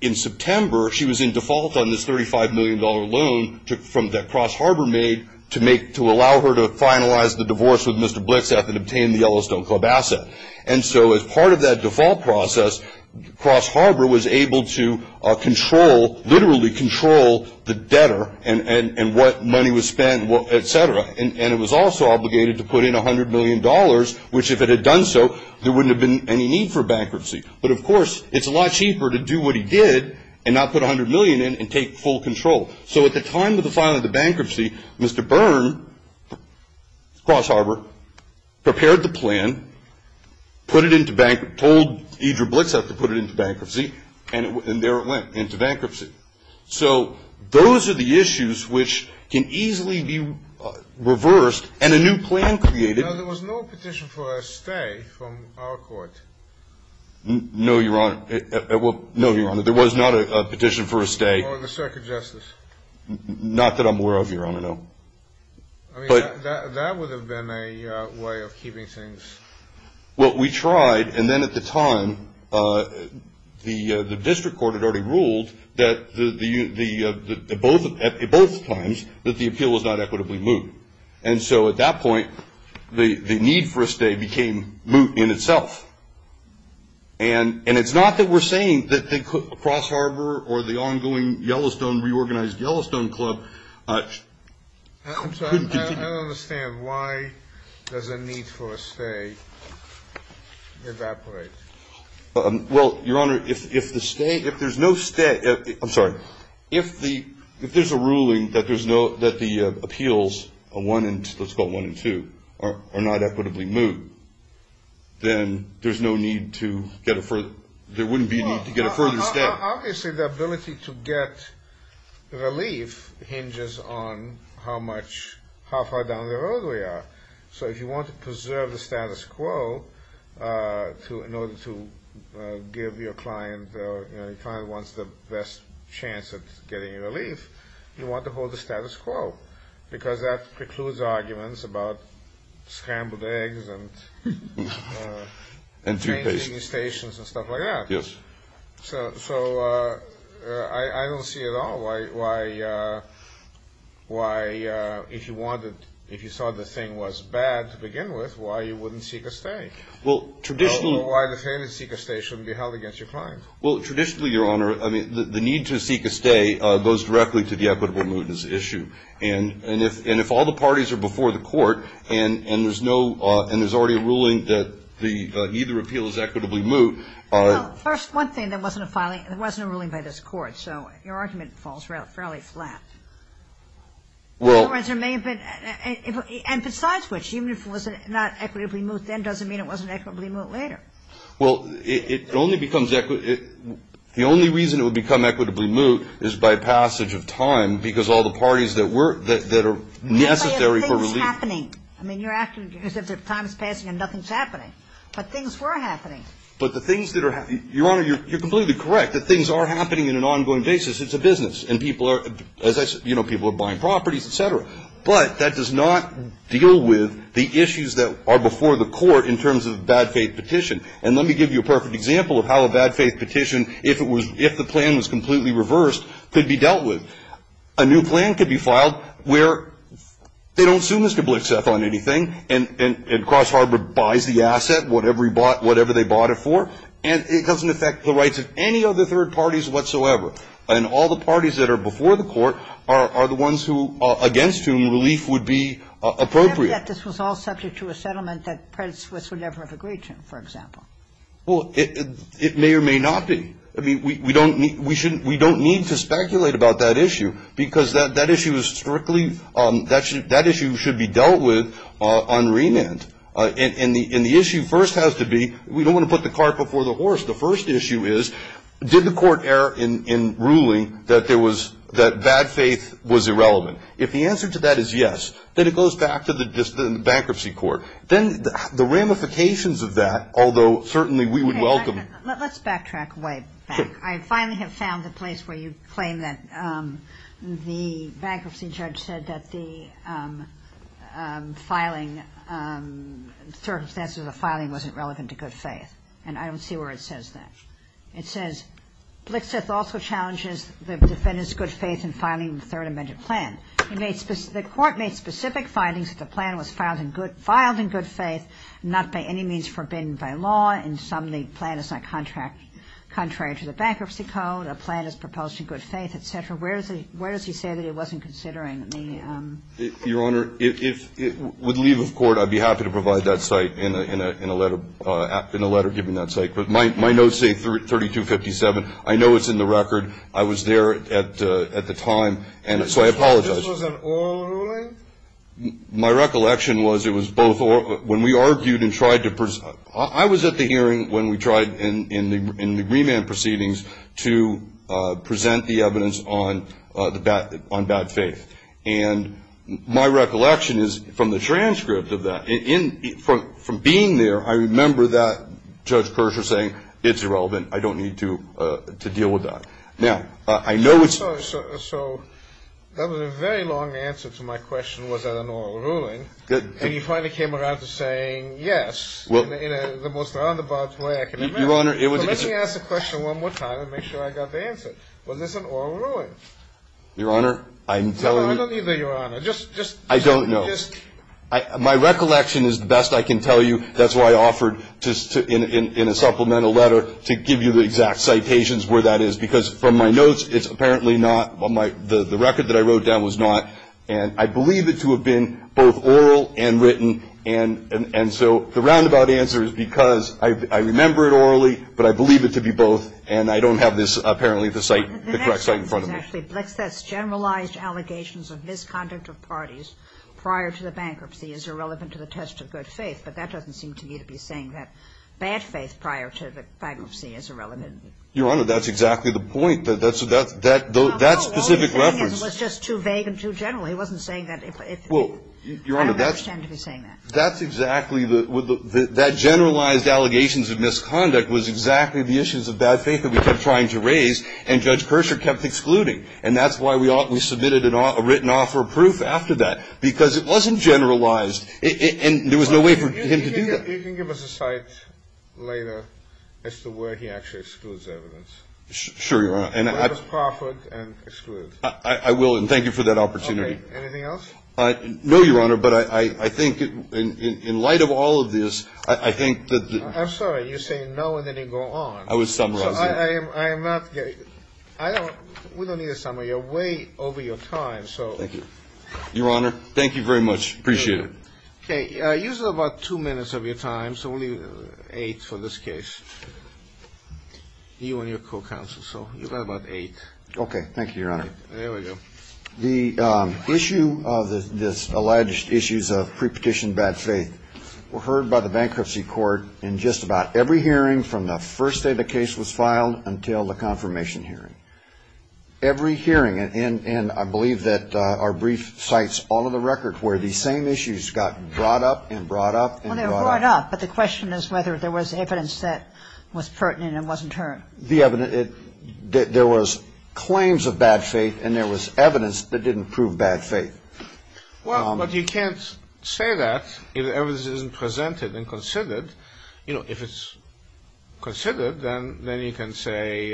in September she was in default on this $35 million loan that Cross Harbor made to allow her to finalize the divorce with Mr. Blixeth and obtain the Yellowstone Club asset. And so as part of that default process, Cross Harbor was able to control, literally control, the debtor and what money was spent, et cetera. And it was also obligated to put in $100 million, which if it had done so, there wouldn't have been any need for bankruptcy. But of course, it's a lot cheaper to do what he did and not put $100 million in and take full control. So at the time of the filing of the bankruptcy, Mr. Byrne, Cross Harbor, prepared the plan, told E.J. Blixeth to put it into bankruptcy, and there it went, into bankruptcy. So those are the issues which can easily be reversed, and a new plan created... No, Your Honor. Well, no, Your Honor, there was not a petition for a stay. Or the circuit justice. Not that I'm aware of, Your Honor, no. I mean, that would have been a way of keeping things... Well, we tried, and then at the time, the district court had already ruled that at both times that the appeal was not equitably moved. And so at that point, the need for a stay became moot in itself. And it's not that we're saying that Cross Harbor or the ongoing Yellowstone, reorganized Yellowstone Club... I'm sorry, I don't understand. Why does a need for a stay evaporate? Well, Your Honor, if the stay... If there's no stay... I'm sorry. If there's a ruling that the appeals, let's call it one and two, are not equitably moved, then there's no need to get a further... There wouldn't be a need to get a further stay. Obviously, the ability to get relief hinges on how far down the road we are. So if you want to preserve the status quo in order to give your client... Your client wants the best chance of getting relief, you want to hold the status quo, because that precludes arguments about scrambled eggs and... And toothpaste. Painting stations and stuff like that. Yes. So I don't see at all why, if you saw the thing was bad to begin with, why you wouldn't seek a stay. Well, traditionally... Or why the failure to seek a stay shouldn't be held against your client. Well, traditionally, Your Honor, the need to seek a stay goes directly to the equitable move that's issued. And if all the parties are before the court and there's already a ruling that neither appeal is equitably moved... Well, first, one thing, there wasn't a ruling by this court, so your argument falls fairly flat. And besides which, even if it was not equitably moved then, doesn't mean it wasn't equitably moved later. Well, the only reason it would become equitably moved is by passage of time, because all the parties that are necessary for relief... But things were happening. I mean, you're asking because if time's passing and nothing's happening. But things were happening. But the things that are happening... Your Honor, you're completely correct that things are happening on an ongoing basis. It's a business. And people are, as I said, you know, people are buying properties, et cetera. But that does not deal with the issues that are before the court in terms of a bad faith petition. And let me give you a perfect example of how a bad faith petition, if the plan was completely reversed, could be dealt with. A new plan could be filed where they don't sue Mr. Blitzeth on anything, and Cross Harbor buys the asset, whatever they bought it for, and it doesn't affect the rights of any of the third parties whatsoever. And all the parties that are before the court are the ones who, against whom, relief would be appropriate. Except that this was all subject to a settlement that Prince would never have agreed to, for example. Well, it may or may not be. I mean, we don't need to speculate about that issue, because that issue should be dealt with on remand. And the issue first has to be, we don't want to put the cart before the horse. The first issue is, did the court err in ruling that bad faith was irrelevant? If the answer to that is yes, then it goes back to the bankruptcy court. Then the ramifications of that, although certainly we would welcome it. Let's backtrack way back. I finally have found the place where you claim that the bankruptcy judge said that the filing, the circumstances of the filing wasn't relevant to good faith. And I don't see where it says that. It says, Blitzeth also challenges the defendant's good faith in filing the third amendment plan. The court made specific findings that the plan was filed in good faith, not by any means forbidden by law. And suddenly, the plan is not contrary to the bankruptcy code. The plan is proposed in good faith, et cetera. Where does he say that he wasn't considering the— Your Honor, if it would leave the court, I'd be happy to provide that site in a letter giving that site. But my notes say 3257. I know it's in the record. I was there at the time, and so I apologize. So this was an oral ruling? My recollection was it was both oral. I was at the hearing when we tried in the remand proceedings to present the evidence on bad faith. And my recollection is from the transcript of that, from being there, I remember that Judge Persher saying, it's irrelevant, I don't need to deal with that. So that was a very long answer to my question, was that an oral ruling. And you finally came around to saying, yes, in the most roundabout way I can remember. Let me ask the question one more time and make sure I got the answer. Was this an oral ruling? Your Honor, I'm telling you— I don't need the Your Honor. I don't know. My recollection is the best I can tell you. That's why I offered, in a supplemental letter, to give you the exact citations where that is. Because from my notes, it's apparently not. The record that I wrote down was not. And I believe it to have been both oral and written. And so the roundabout answer is because I remember it orally, but I believe it to be both. And I don't have this, apparently, the correct site in front of me. Generalized allegations of misconduct of parties prior to the bankruptcy is irrelevant to the test of good faith. But that doesn't seem to me to be saying that bad faith prior to the bankruptcy is irrelevant. Your Honor, that's exactly the point. That specific reference— It was just too vague and too general. He wasn't saying that— Well, Your Honor, that's— I don't understand you saying that. That's exactly—that generalized allegations of misconduct was exactly the issues of bad faith that we kept trying to raise. And Judge Kershaw kept excluding. And that's why we submitted a written offer of proof after that. Because it wasn't generalized. And there was no way for him to do that. You can give us a cite later as to where he actually excludes evidence. Sure, Your Honor. That was Crawford and excludes. I will. And thank you for that opportunity. Okay. Anything else? No, Your Honor. But I think in light of all of this, I think that— I'm sorry. You're saying no and then you go on. I was talking about— I am not—I don't—we don't need a summary. You're way over your time, so— Thank you. Your Honor, thank you very much. Appreciate it. Okay. You have about two minutes of your time, so only eight for this case. You and your co-counsel, so you've got about eight. Okay. Thank you, Your Honor. There we go. The issue of this—alleged issues of pre-petition bad faith were heard by the bankruptcy court in just about every hearing from the first day the case was filed until the confirmation hearing. Every hearing, and I believe that our brief cites all of the records where these same issues got brought up and brought up and brought up. Well, they were brought up, but the question is whether there was evidence that was pertinent and wasn't heard. There was claims of bad faith and there was evidence that didn't prove bad faith. Well, but you can't say that if evidence isn't presented and considered. You know, if it's considered, then you can say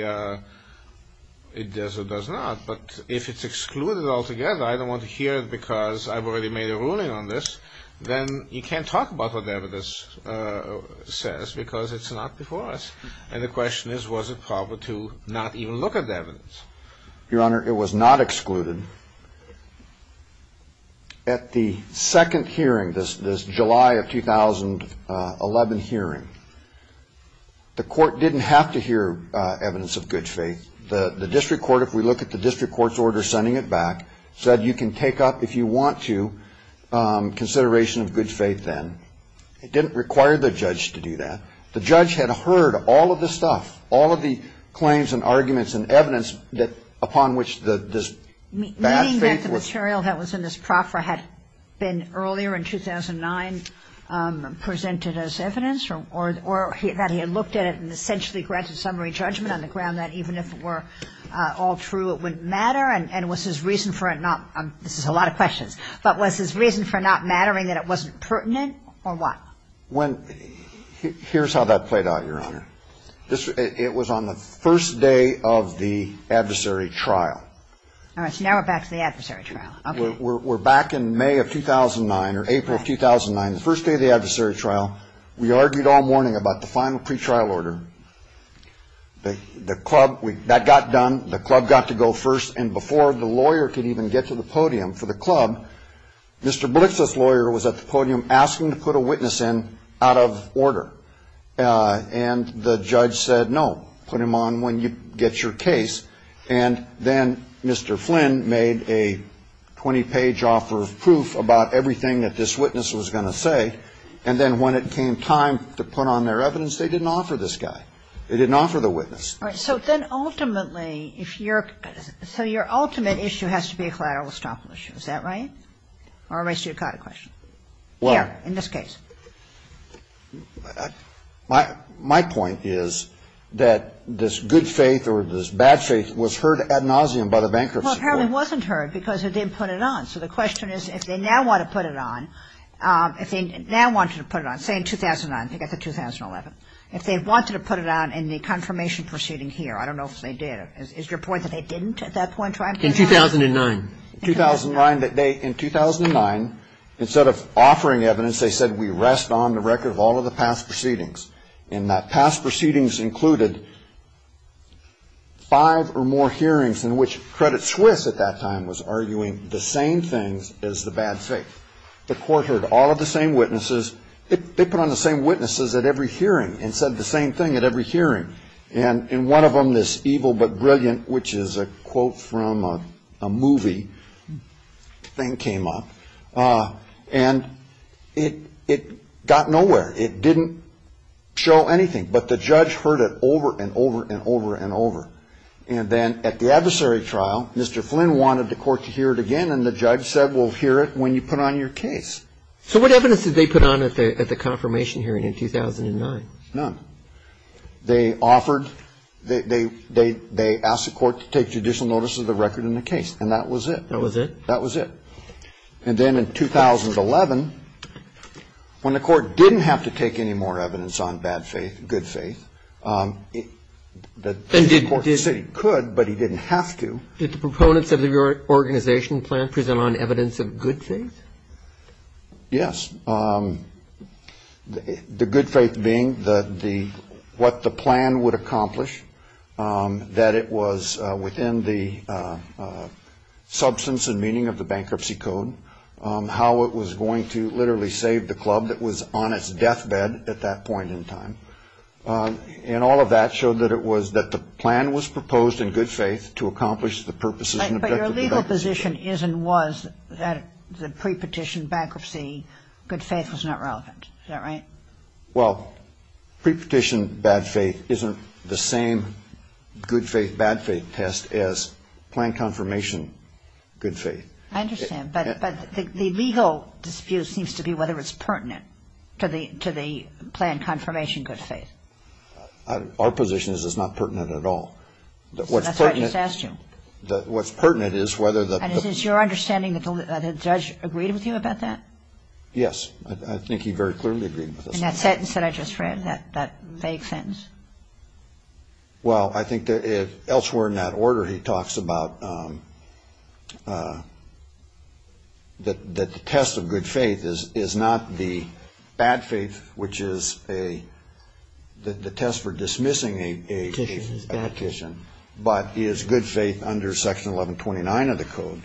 it does or does not, but if it's excluded altogether— I don't want to hear it because I've already made a ruling on this— then you can't talk about what the evidence says because it's not before us. And the question is, was it proper to not even look at the evidence? Your Honor, it was not excluded. At the second hearing, this July of 2011 hearing, the court didn't have to hear evidence of good faith. The district court, if we look at the district court's order sending it back, said you can take up, if you want to, consideration of good faith then. It didn't require the judge to do that. The judge had heard all of the stuff, all of the claims and arguments and evidence upon which this bad faith was— Meaning that the material that was in this proffer had been earlier in 2009 presented as evidence or that he had looked at it and essentially granted summary judgment on the ground that even if it were all true, it wouldn't matter? And was his reason for it not—this is a lot of questions—but was his reason for it not mattering that it wasn't pertinent or what? Here's how that played out, Your Honor. It was on the first day of the adversary trial. All right, so now we're back to the adversary trial. We're back in May of 2009 or April of 2009, the first day of the adversary trial. We argued all morning about the final pretrial order. The club—that got done. The club got to go first, and before the lawyer could even get to the podium for the club, Mr. Blix's lawyer was at the podium asking to put a witness in out of order. And the judge said, no, put him on when you get your case. And then Mr. Flynn made a 20-page offer of proof about everything that this witness was going to say. And then when it came time to put on their evidence, they didn't offer this guy. They didn't offer the witness. All right, so then ultimately, if you're—so your ultimate issue has to be a collateral estoppel issue. Is that right? Or at least you've got a question. Well— Yeah, in this case. My point is that this good faith or this bad faith was heard ad nauseum by the bankruptcy court. Well, apparently it wasn't heard because they didn't put it on. So the question is, if they now want to put it on, if they now wanted to put it on, say in 2009, if they wanted to put it on in the confirmation proceeding here, I don't know if they did. Is your point that they didn't at that point? In 2009. In 2009, that they—in 2009, instead of offering evidence, they said, we rest on the record of all of the past proceedings. And that past proceedings included five or more hearings in which Credit Suisse at that time was arguing the same things as the bad faith. The court heard all of the same witnesses. They put on the same witnesses at every hearing and said the same thing at every hearing. And in one of them, this evil but brilliant, which is a quote from a movie, thing came up. And it got nowhere. It didn't show anything. But the judge heard it over and over and over and over. And then at the adversary trial, Mr. Flynn wanted the court to hear it again. And the judge said, we'll hear it when you put it on your case. So what evidence did they put on at the confirmation hearing in 2009? None. They offered—they asked the court to take judicial notice of the record in the case. And that was it. That was it? That was it. And then in 2011, when the court didn't have to take any more evidence on bad faith, good faith, the court said it could, but he didn't have to. Did the proponents of the organization plan present on evidence of good faith? Yes. The good faith being what the plan would accomplish, that it was within the substance and meaning of the bankruptcy code, how it was going to literally save the club that was on its deathbed at that point in time. And all of that showed that it was—that the plan was proposed in good faith to accomplish the purposes and objectives of that position. But your legal position is and was that the pre-petition bankruptcy, good faith was not relevant. Is that right? Well, pre-petition bad faith isn't the same good faith, bad faith test as plan confirmation good faith. I understand. But the legal dispute seems to be whether it's pertinent to the plan confirmation good faith. Our position is it's not pertinent at all. That's why I just asked you. What's pertinent is whether the— And it is your understanding that the judge agreed with you about that? Yes. I think he very clearly agreed with us. In that sentence that I just read, that vague sentence? Well, I think that elsewhere in that order he talks about that the test of good faith is not the bad faith, which is the test for dismissing a petition, but is good faith under Section 1129 of the code.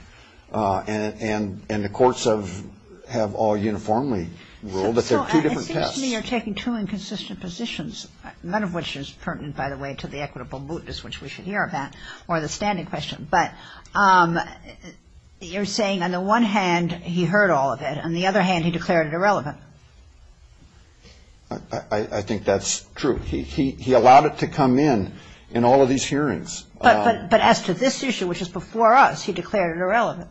And the courts have all uniformly ruled that there are two different tests. It seems to me you're taking two inconsistent positions, none of which is pertinent, by the way, to the equitable mootness, which we should hear about, or the standing question. But you're saying on the one hand he heard all of it. On the other hand, he declared it irrelevant. I think that's true. He allowed it to come in in all of these hearings. But as to this issue, which is before us, he declared it irrelevant.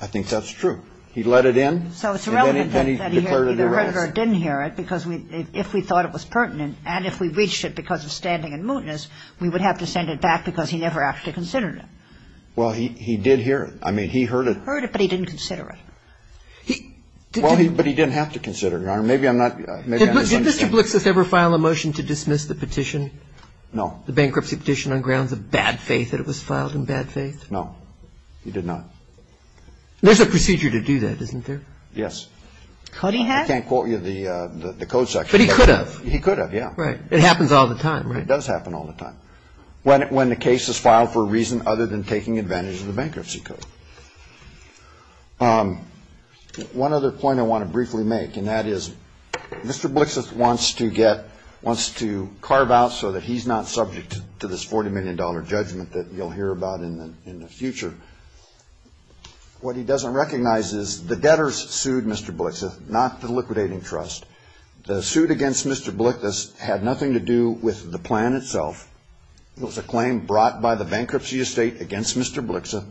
I think that's true. He let it in. So it's irrelevant that he heard it or didn't hear it, because if we thought it was pertinent, and if we reached it because of standing and mootness, we would have to send it back because he never actually considered it. Well, he did hear it. I mean, he heard it. He heard it, but he didn't consider it. Well, but he didn't have to consider it. Your Honor, maybe I'm not... Did Mr. Blixus ever file a motion to dismiss the petition? No. The bankruptcy petition on grounds of bad faith, that it was filed in bad faith? No, he did not. There's a procedure to do that, isn't there? Yes. I can't quote you the code section. But he could have. He could have, yeah. Right. It happens all the time, right? It does happen all the time. When the case is filed for a reason other than taking advantage of the bankruptcy code. One other point I want to briefly make, and that is Mr. Blixus wants to carve out so that he's not subject to this $40 million judgment that you'll hear about in the future. What he doesn't recognize is the debtors sued Mr. Blixus, not the liquidating trust. The suit against Mr. Blixus had nothing to do with the plan itself. It was a claim brought by the bankruptcy estate against Mr. Blixus.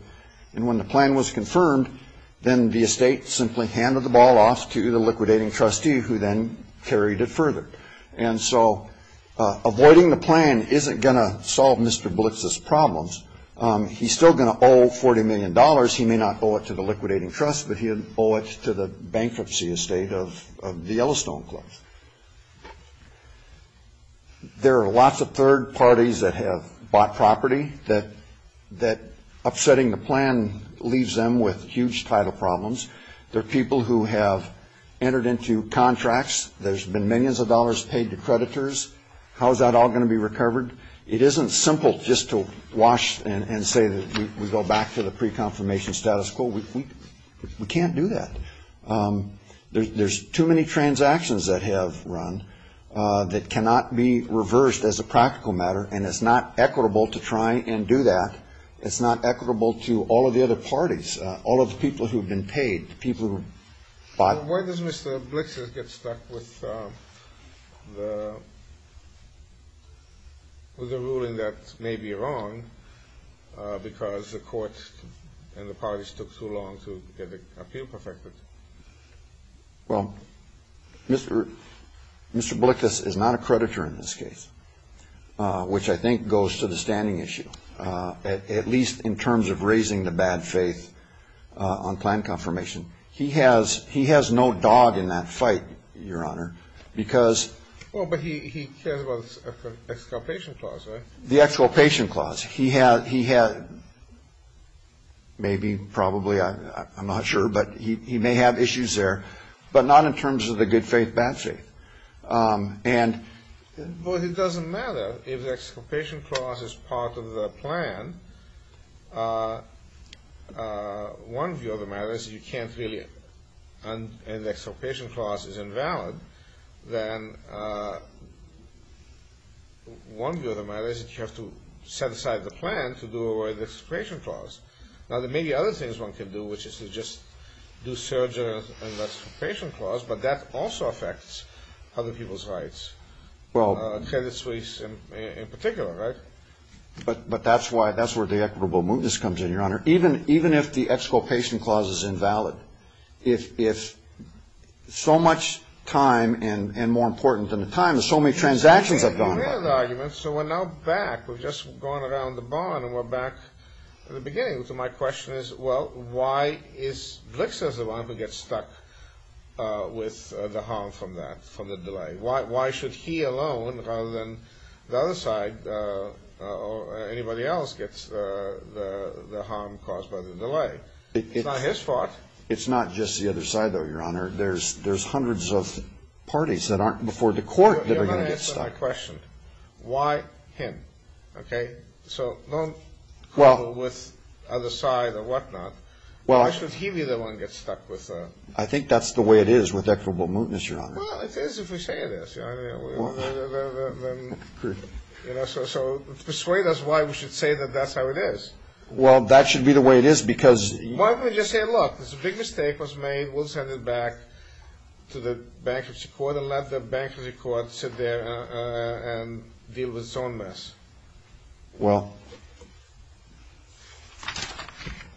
And when the plan was confirmed, then the estate simply handed the ball off to the liquidating trustee who then carried it further. And so avoiding the plan isn't going to solve Mr. Blixus' problems. He's still going to owe $40 million. He may not owe it to the liquidating trust, but he owes it to the bankruptcy estate of the Yellowstone Club. There are lots of third parties that have bought property that upsetting the plan leaves them with huge title problems. There are people who have entered into contracts. There's been millions of dollars paid to creditors. How is that all going to be recovered? It isn't simple just to wash and say we go back to the pre-confirmation status quo. We can't do that. There's too many transactions that have run that cannot be reversed as a practical matter, and it's not equitable to try and do that. It's not equitable to all of the other parties, all of the people who have been paid, the people who have bought. So where does Mr. Blixus get stuck with the ruling that may be wrong because the courts and the parties took too long to get appeal perfected? Well, Mr. Blixus is not a creditor in this case, which I think goes to the standing issue, at least in terms of raising the bad faith on plan confirmation. He has no dog in that fight, Your Honor, because... Well, but he cares about the exculpation clause, right? The exculpation clause. He had maybe, probably, I'm not sure, but he may have issues there, but not in terms of the good faith, bad faith. But it doesn't matter. If the exculpation clause is part of the plan, one view of the matter is you can't really, and the exculpation clause is invalid, then one view of the matter is that you have to set aside the plan to do away with the exculpation clause. Now, there may be other things one can do, which is to just do surgery on the exculpation clause, but that also affects other people's rights. Well... Attendance fees, in particular, right? But that's where the equitable mootness comes in, Your Honor. Even if the exculpation clause is invalid, if so much time and, more important than the time, so many transactions have gone on... So we're now back, we've just gone around the barn and we're back to the beginning. So my question is, well, why is Blitzer the one who gets stuck with the harm from that, from the delay? Why should he alone, rather than the other side or anybody else, get the harm caused by the delay? It's not his fault. It's not just the other side, though, Your Honor. There's hundreds of parties that aren't before the court that are going to get stuck. That's my question. Why him? Okay? So don't quibble with the other side or whatnot. Why should he be the one who gets stuck with the... I think that's the way it is with equitable mootness, Your Honor. Well, it is if we say it is. So persuade us why we should say that that's how it is. Well, that should be the way it is because... Why couldn't he just say, look, this big mistake was made, we'll send it back to the bankruptcy court and let the bankruptcy court sit there and deal with its own mess? Well,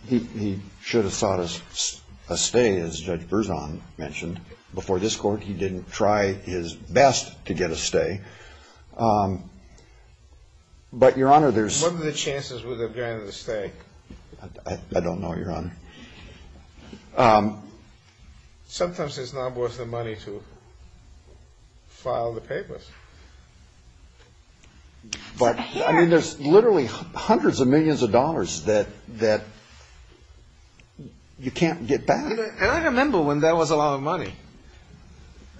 he should have sought a stay, as Judge Berzon mentioned. Before this court, he didn't try his best to get a stay. But, Your Honor, there's... What are the chances with a granted stay? I don't know, Your Honor. Sometimes it's not worth the money to file the papers. I mean, there's literally hundreds of millions of dollars that you can't get back. I remember when there was a lot of money.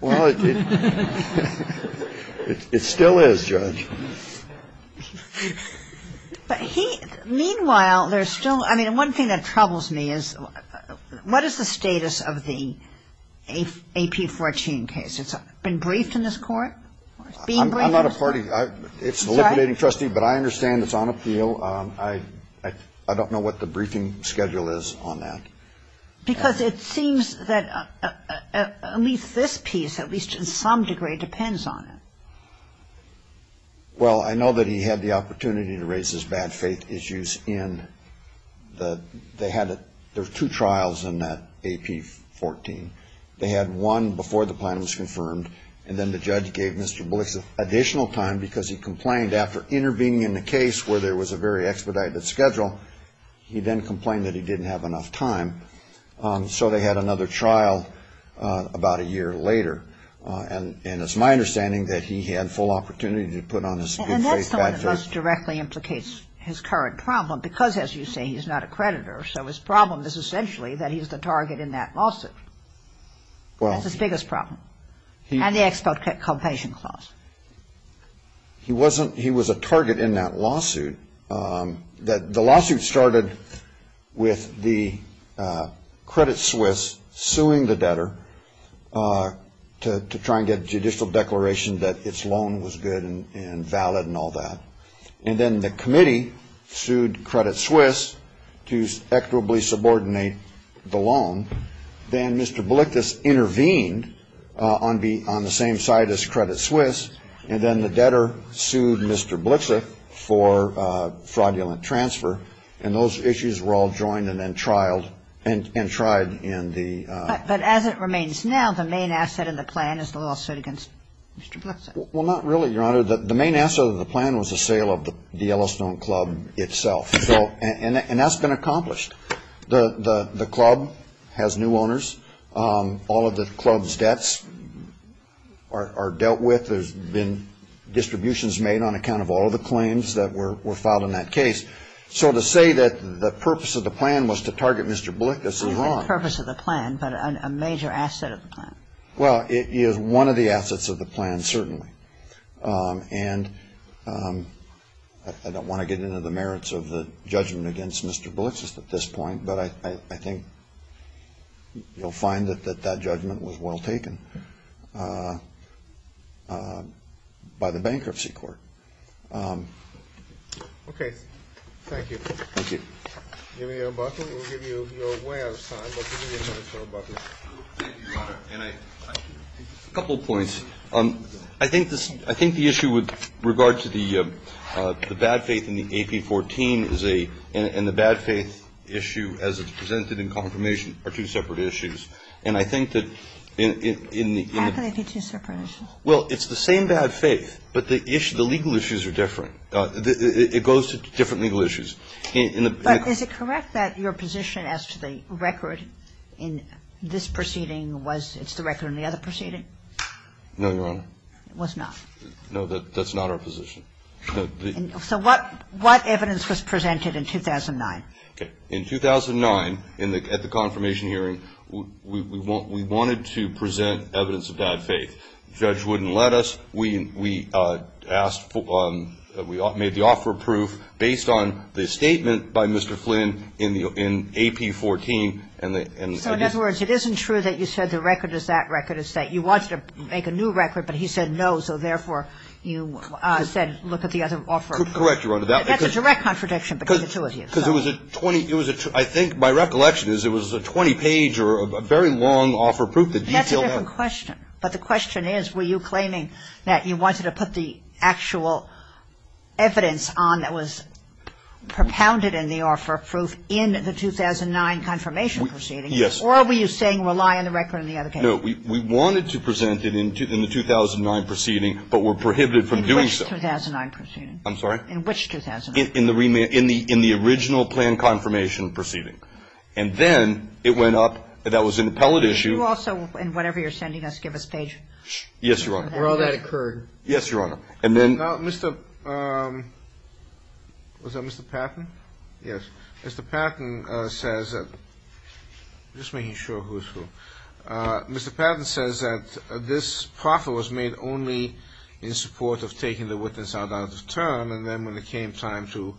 Well, it still is, Judge. Meanwhile, there's still... I mean, one thing that troubles me is what is the status of the AP 14 case? It's been briefed in this court? I'm not a court... It's a little bit, Trustee, but I understand it's on appeal. I don't know what the briefing schedule is on that. Because it seems that at least this piece, at least in some degree, depends on it. Well, I know that he had the opportunity to raise his bad faith issues in the... They had two trials in that AP 14. They had one before the plan was confirmed, and then the judge gave Mr. Bliss additional time because he complained after intervening in the case where there was a very expedited schedule, he then complained that he didn't have enough time. So they had another trial about a year later. And it's my understanding that he had full opportunity to put on his good faith bad faith... And that's the one that most directly implicates his current problem, because, as you say, he's not a creditor. So his problem is essentially that he's the target in that lawsuit. That's the biggest problem. And the exculpation clause. He wasn't...he was a target in that lawsuit. The lawsuit started with the Credit Suisse suing the debtor to try and get a judicial declaration that its loan was good and valid and all that. And then the committee sued Credit Suisse to equitably subordinate the loan. Then Mr. Blixas intervened on the same side as Credit Suisse, and then the debtor sued Mr. Blixas for fraudulent transfer. And those issues were all joined and then trialed and tried in the... But as it remains now, the main asset of the plan is the lawsuit against Mr. Blixas. Well, not really, Your Honor. The main asset of the plan was the sale of the Yellowstone Club itself. And that's been accomplished. The club has new owners. All of the club's debts are dealt with. There's been distributions made on account of all the claims that were filed in that case. So to say that the purpose of the plan was to target Mr. Blixas is wrong. Not the purpose of the plan, but a major asset of the plan. Well, it is one of the assets of the plan, certainly. And I don't want to get into the merits of the judgment against Mr. Blixas at this point, but I think you'll find that that judgment was well taken by the Bankruptcy Court. Okay. Thank you. Thank you. Do you have any other questions? We'll give you your way out of time. Thank you, Your Honor. A couple of points. I think the issue with regard to the bad faith in the AP-14 is a – and the bad faith issue as it's presented in confirmation are two separate issues. And I think that in the – How can they be two separate issues? Well, it's the same bad faith, but the legal issues are different. It goes to different legal issues. Is it correct that your position as to the record in this proceeding was it's the record in the other proceeding? No, Your Honor. It was not? No, that's not our position. So what evidence was presented in 2009? In 2009, at the confirmation hearing, we wanted to present evidence of bad faith. The judge wouldn't let us. So we asked – we made the offer of proof based on the statement by Mr. Flynn in AP-14. So in other words, it isn't true that you said the record is that record. It's that you wanted to make a new record, but he said no, so therefore you said look at the other offer. Correct, Your Honor. That's a direct contradiction between the two of you. Because it was a – I think my recollection is it was a 20-page or a very long offer of proof. That's a different question, but the question is were you claiming that you wanted to put the actual evidence on that was propounded in the offer of proof in the 2009 confirmation proceeding? Yes. Or were you saying rely on the record in the other case? No, we wanted to present it in the 2009 proceeding, but were prohibited from doing so. In which 2009 proceeding? I'm sorry? In which 2009? In the original plan confirmation proceeding. And then it went up – that was an appellate issue. Did you also, in whatever you're sending us, give a statement? Yes, Your Honor. Or that occurred. Yes, Your Honor. And then – Now, Mr. – was that Mr. Patton? Yes. Mr. Patton says – just making sure who it's from. Mr. Patton says that this proffer was made only in support of taking the witness out of the term, and then when it came time to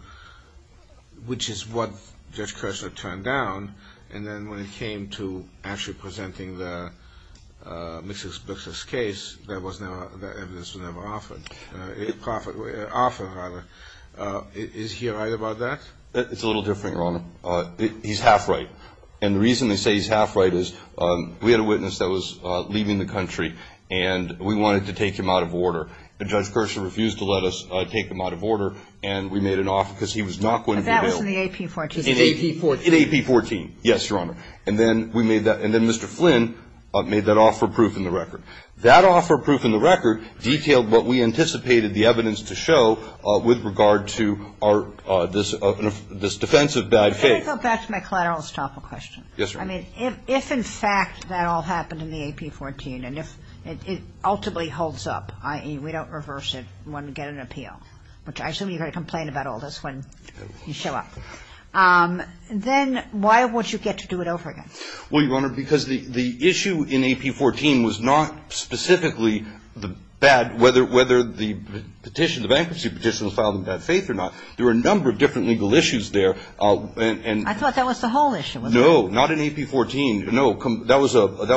– which is what Judge Kershner turned down, and then when it came to actually presenting the mis-explicit case, that evidence was never offered. Offered, rather. Is he right about that? It's a little different, Your Honor. He's half right. And the reason we say he's half right is we had a witness that was leaving the country, and we wanted to take him out of order. And Judge Kershner refused to let us take him out of order, and we made an offer because he was not going to be bailed. But that was in the AP 14. In AP 14. Yes, Your Honor. And then we made that – and then Mr. Flynn made that offer proof in the record. That offer proof in the record detailed what we anticipated the evidence to show with regard to our – this defensive bad case. I think that's my collateral stopper question. Yes, Your Honor. I mean, if in fact that all happened in the AP 14, and if it ultimately holds up, i.e. we don't reverse it, we won't get an appeal, which I assume you're going to complain about all this when you show up, then why won't you get to do it over again? Well, Your Honor, because the issue in AP 14 was not specifically whether the petition, the bankruptcy petition was filed in bad faith or not. There were a number of different legal issues there. I thought that was the whole issue. No, not in AP 14. No, that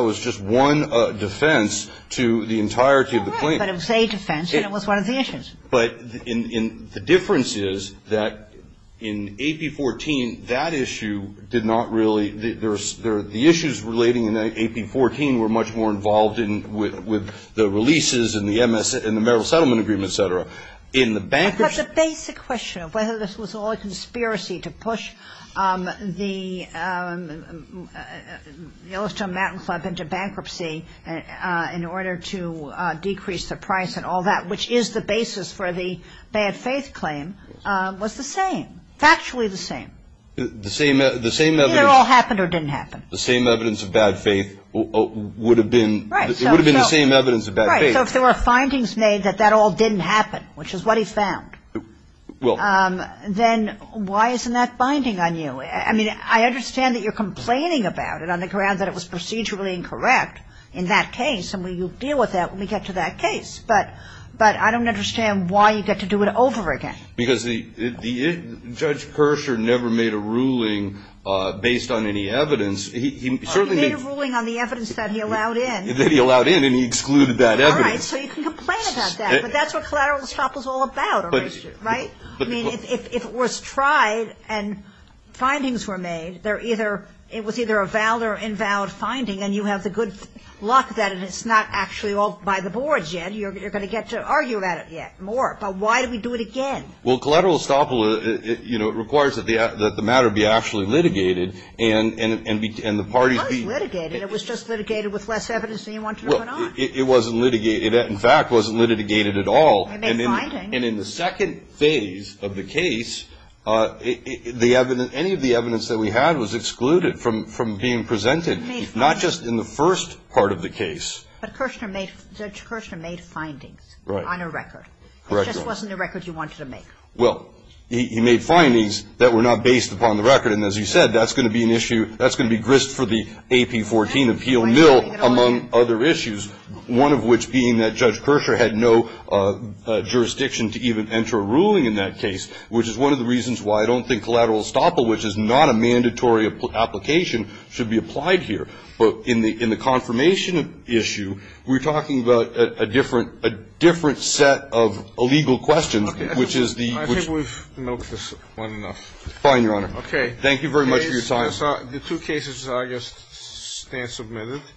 was just one defense to the entirety of the claim. But it was a defense, and it was one of the issues. But the difference is that in AP 14, that issue did not really – the issues relating in AP 14 were much more involved with the releases and the Merrill Settlement Agreement, et cetera. But the basic question of whether this was all a conspiracy to push the Yellowstone Mountain Club into bankruptcy in order to decrease the price and all that, which is the basis for the bad faith claim, was the same, factually the same. The same evidence. It all happened or didn't happen. The same evidence of bad faith would have been the same evidence of bad faith. Right. So if there were findings made that that all didn't happen, which is what he found, then why isn't that binding on you? I mean, I understand that you're complaining about it on the ground that it was procedurally incorrect in that case, and we'll deal with that when we get to that case. But I don't understand why you'd have to do it over again. Because Judge Persher never made a ruling based on any evidence. He made a ruling on the evidence that he allowed in. That he allowed in, and he excluded that evidence. Right. So you can complain about that, but that's what collateral stuff is all about, right? I mean, if it was tried and findings were made, it was either a valid or invalid finding, and you have the good luck that it's not actually all by the board yet. You're going to get to argue about it yet more. But why do we do it again? Well, collateral estoppel requires that the matter be actually litigated and the parties be ---- It wasn't litigated. It was just litigated with less evidence than you want to go on. It wasn't litigated. It, in fact, wasn't litigated at all. And in the second phase of the case, any of the evidence that we had was excluded from being presented, not just in the first part of the case. But Judge Persher made findings on a record. Correct. It just wasn't the records you wanted to make. Well, he made findings that were not based upon the record. And as you said, that's going to be an issue, that's going to be grist for the AP 14 appeal mill, among other issues, one of which being that Judge Persher had no jurisdiction to even enter a ruling in that case, which is one of the reasons why I don't think collateral estoppel, which is not a mandatory application, should be applied here. But in the confirmation issue, we're talking about a different set of legal question, which is the ---- I think we've noted this one enough. Fine, Your Honor. Okay. Thank you very much for your time. The two cases, I guess, stand submitted.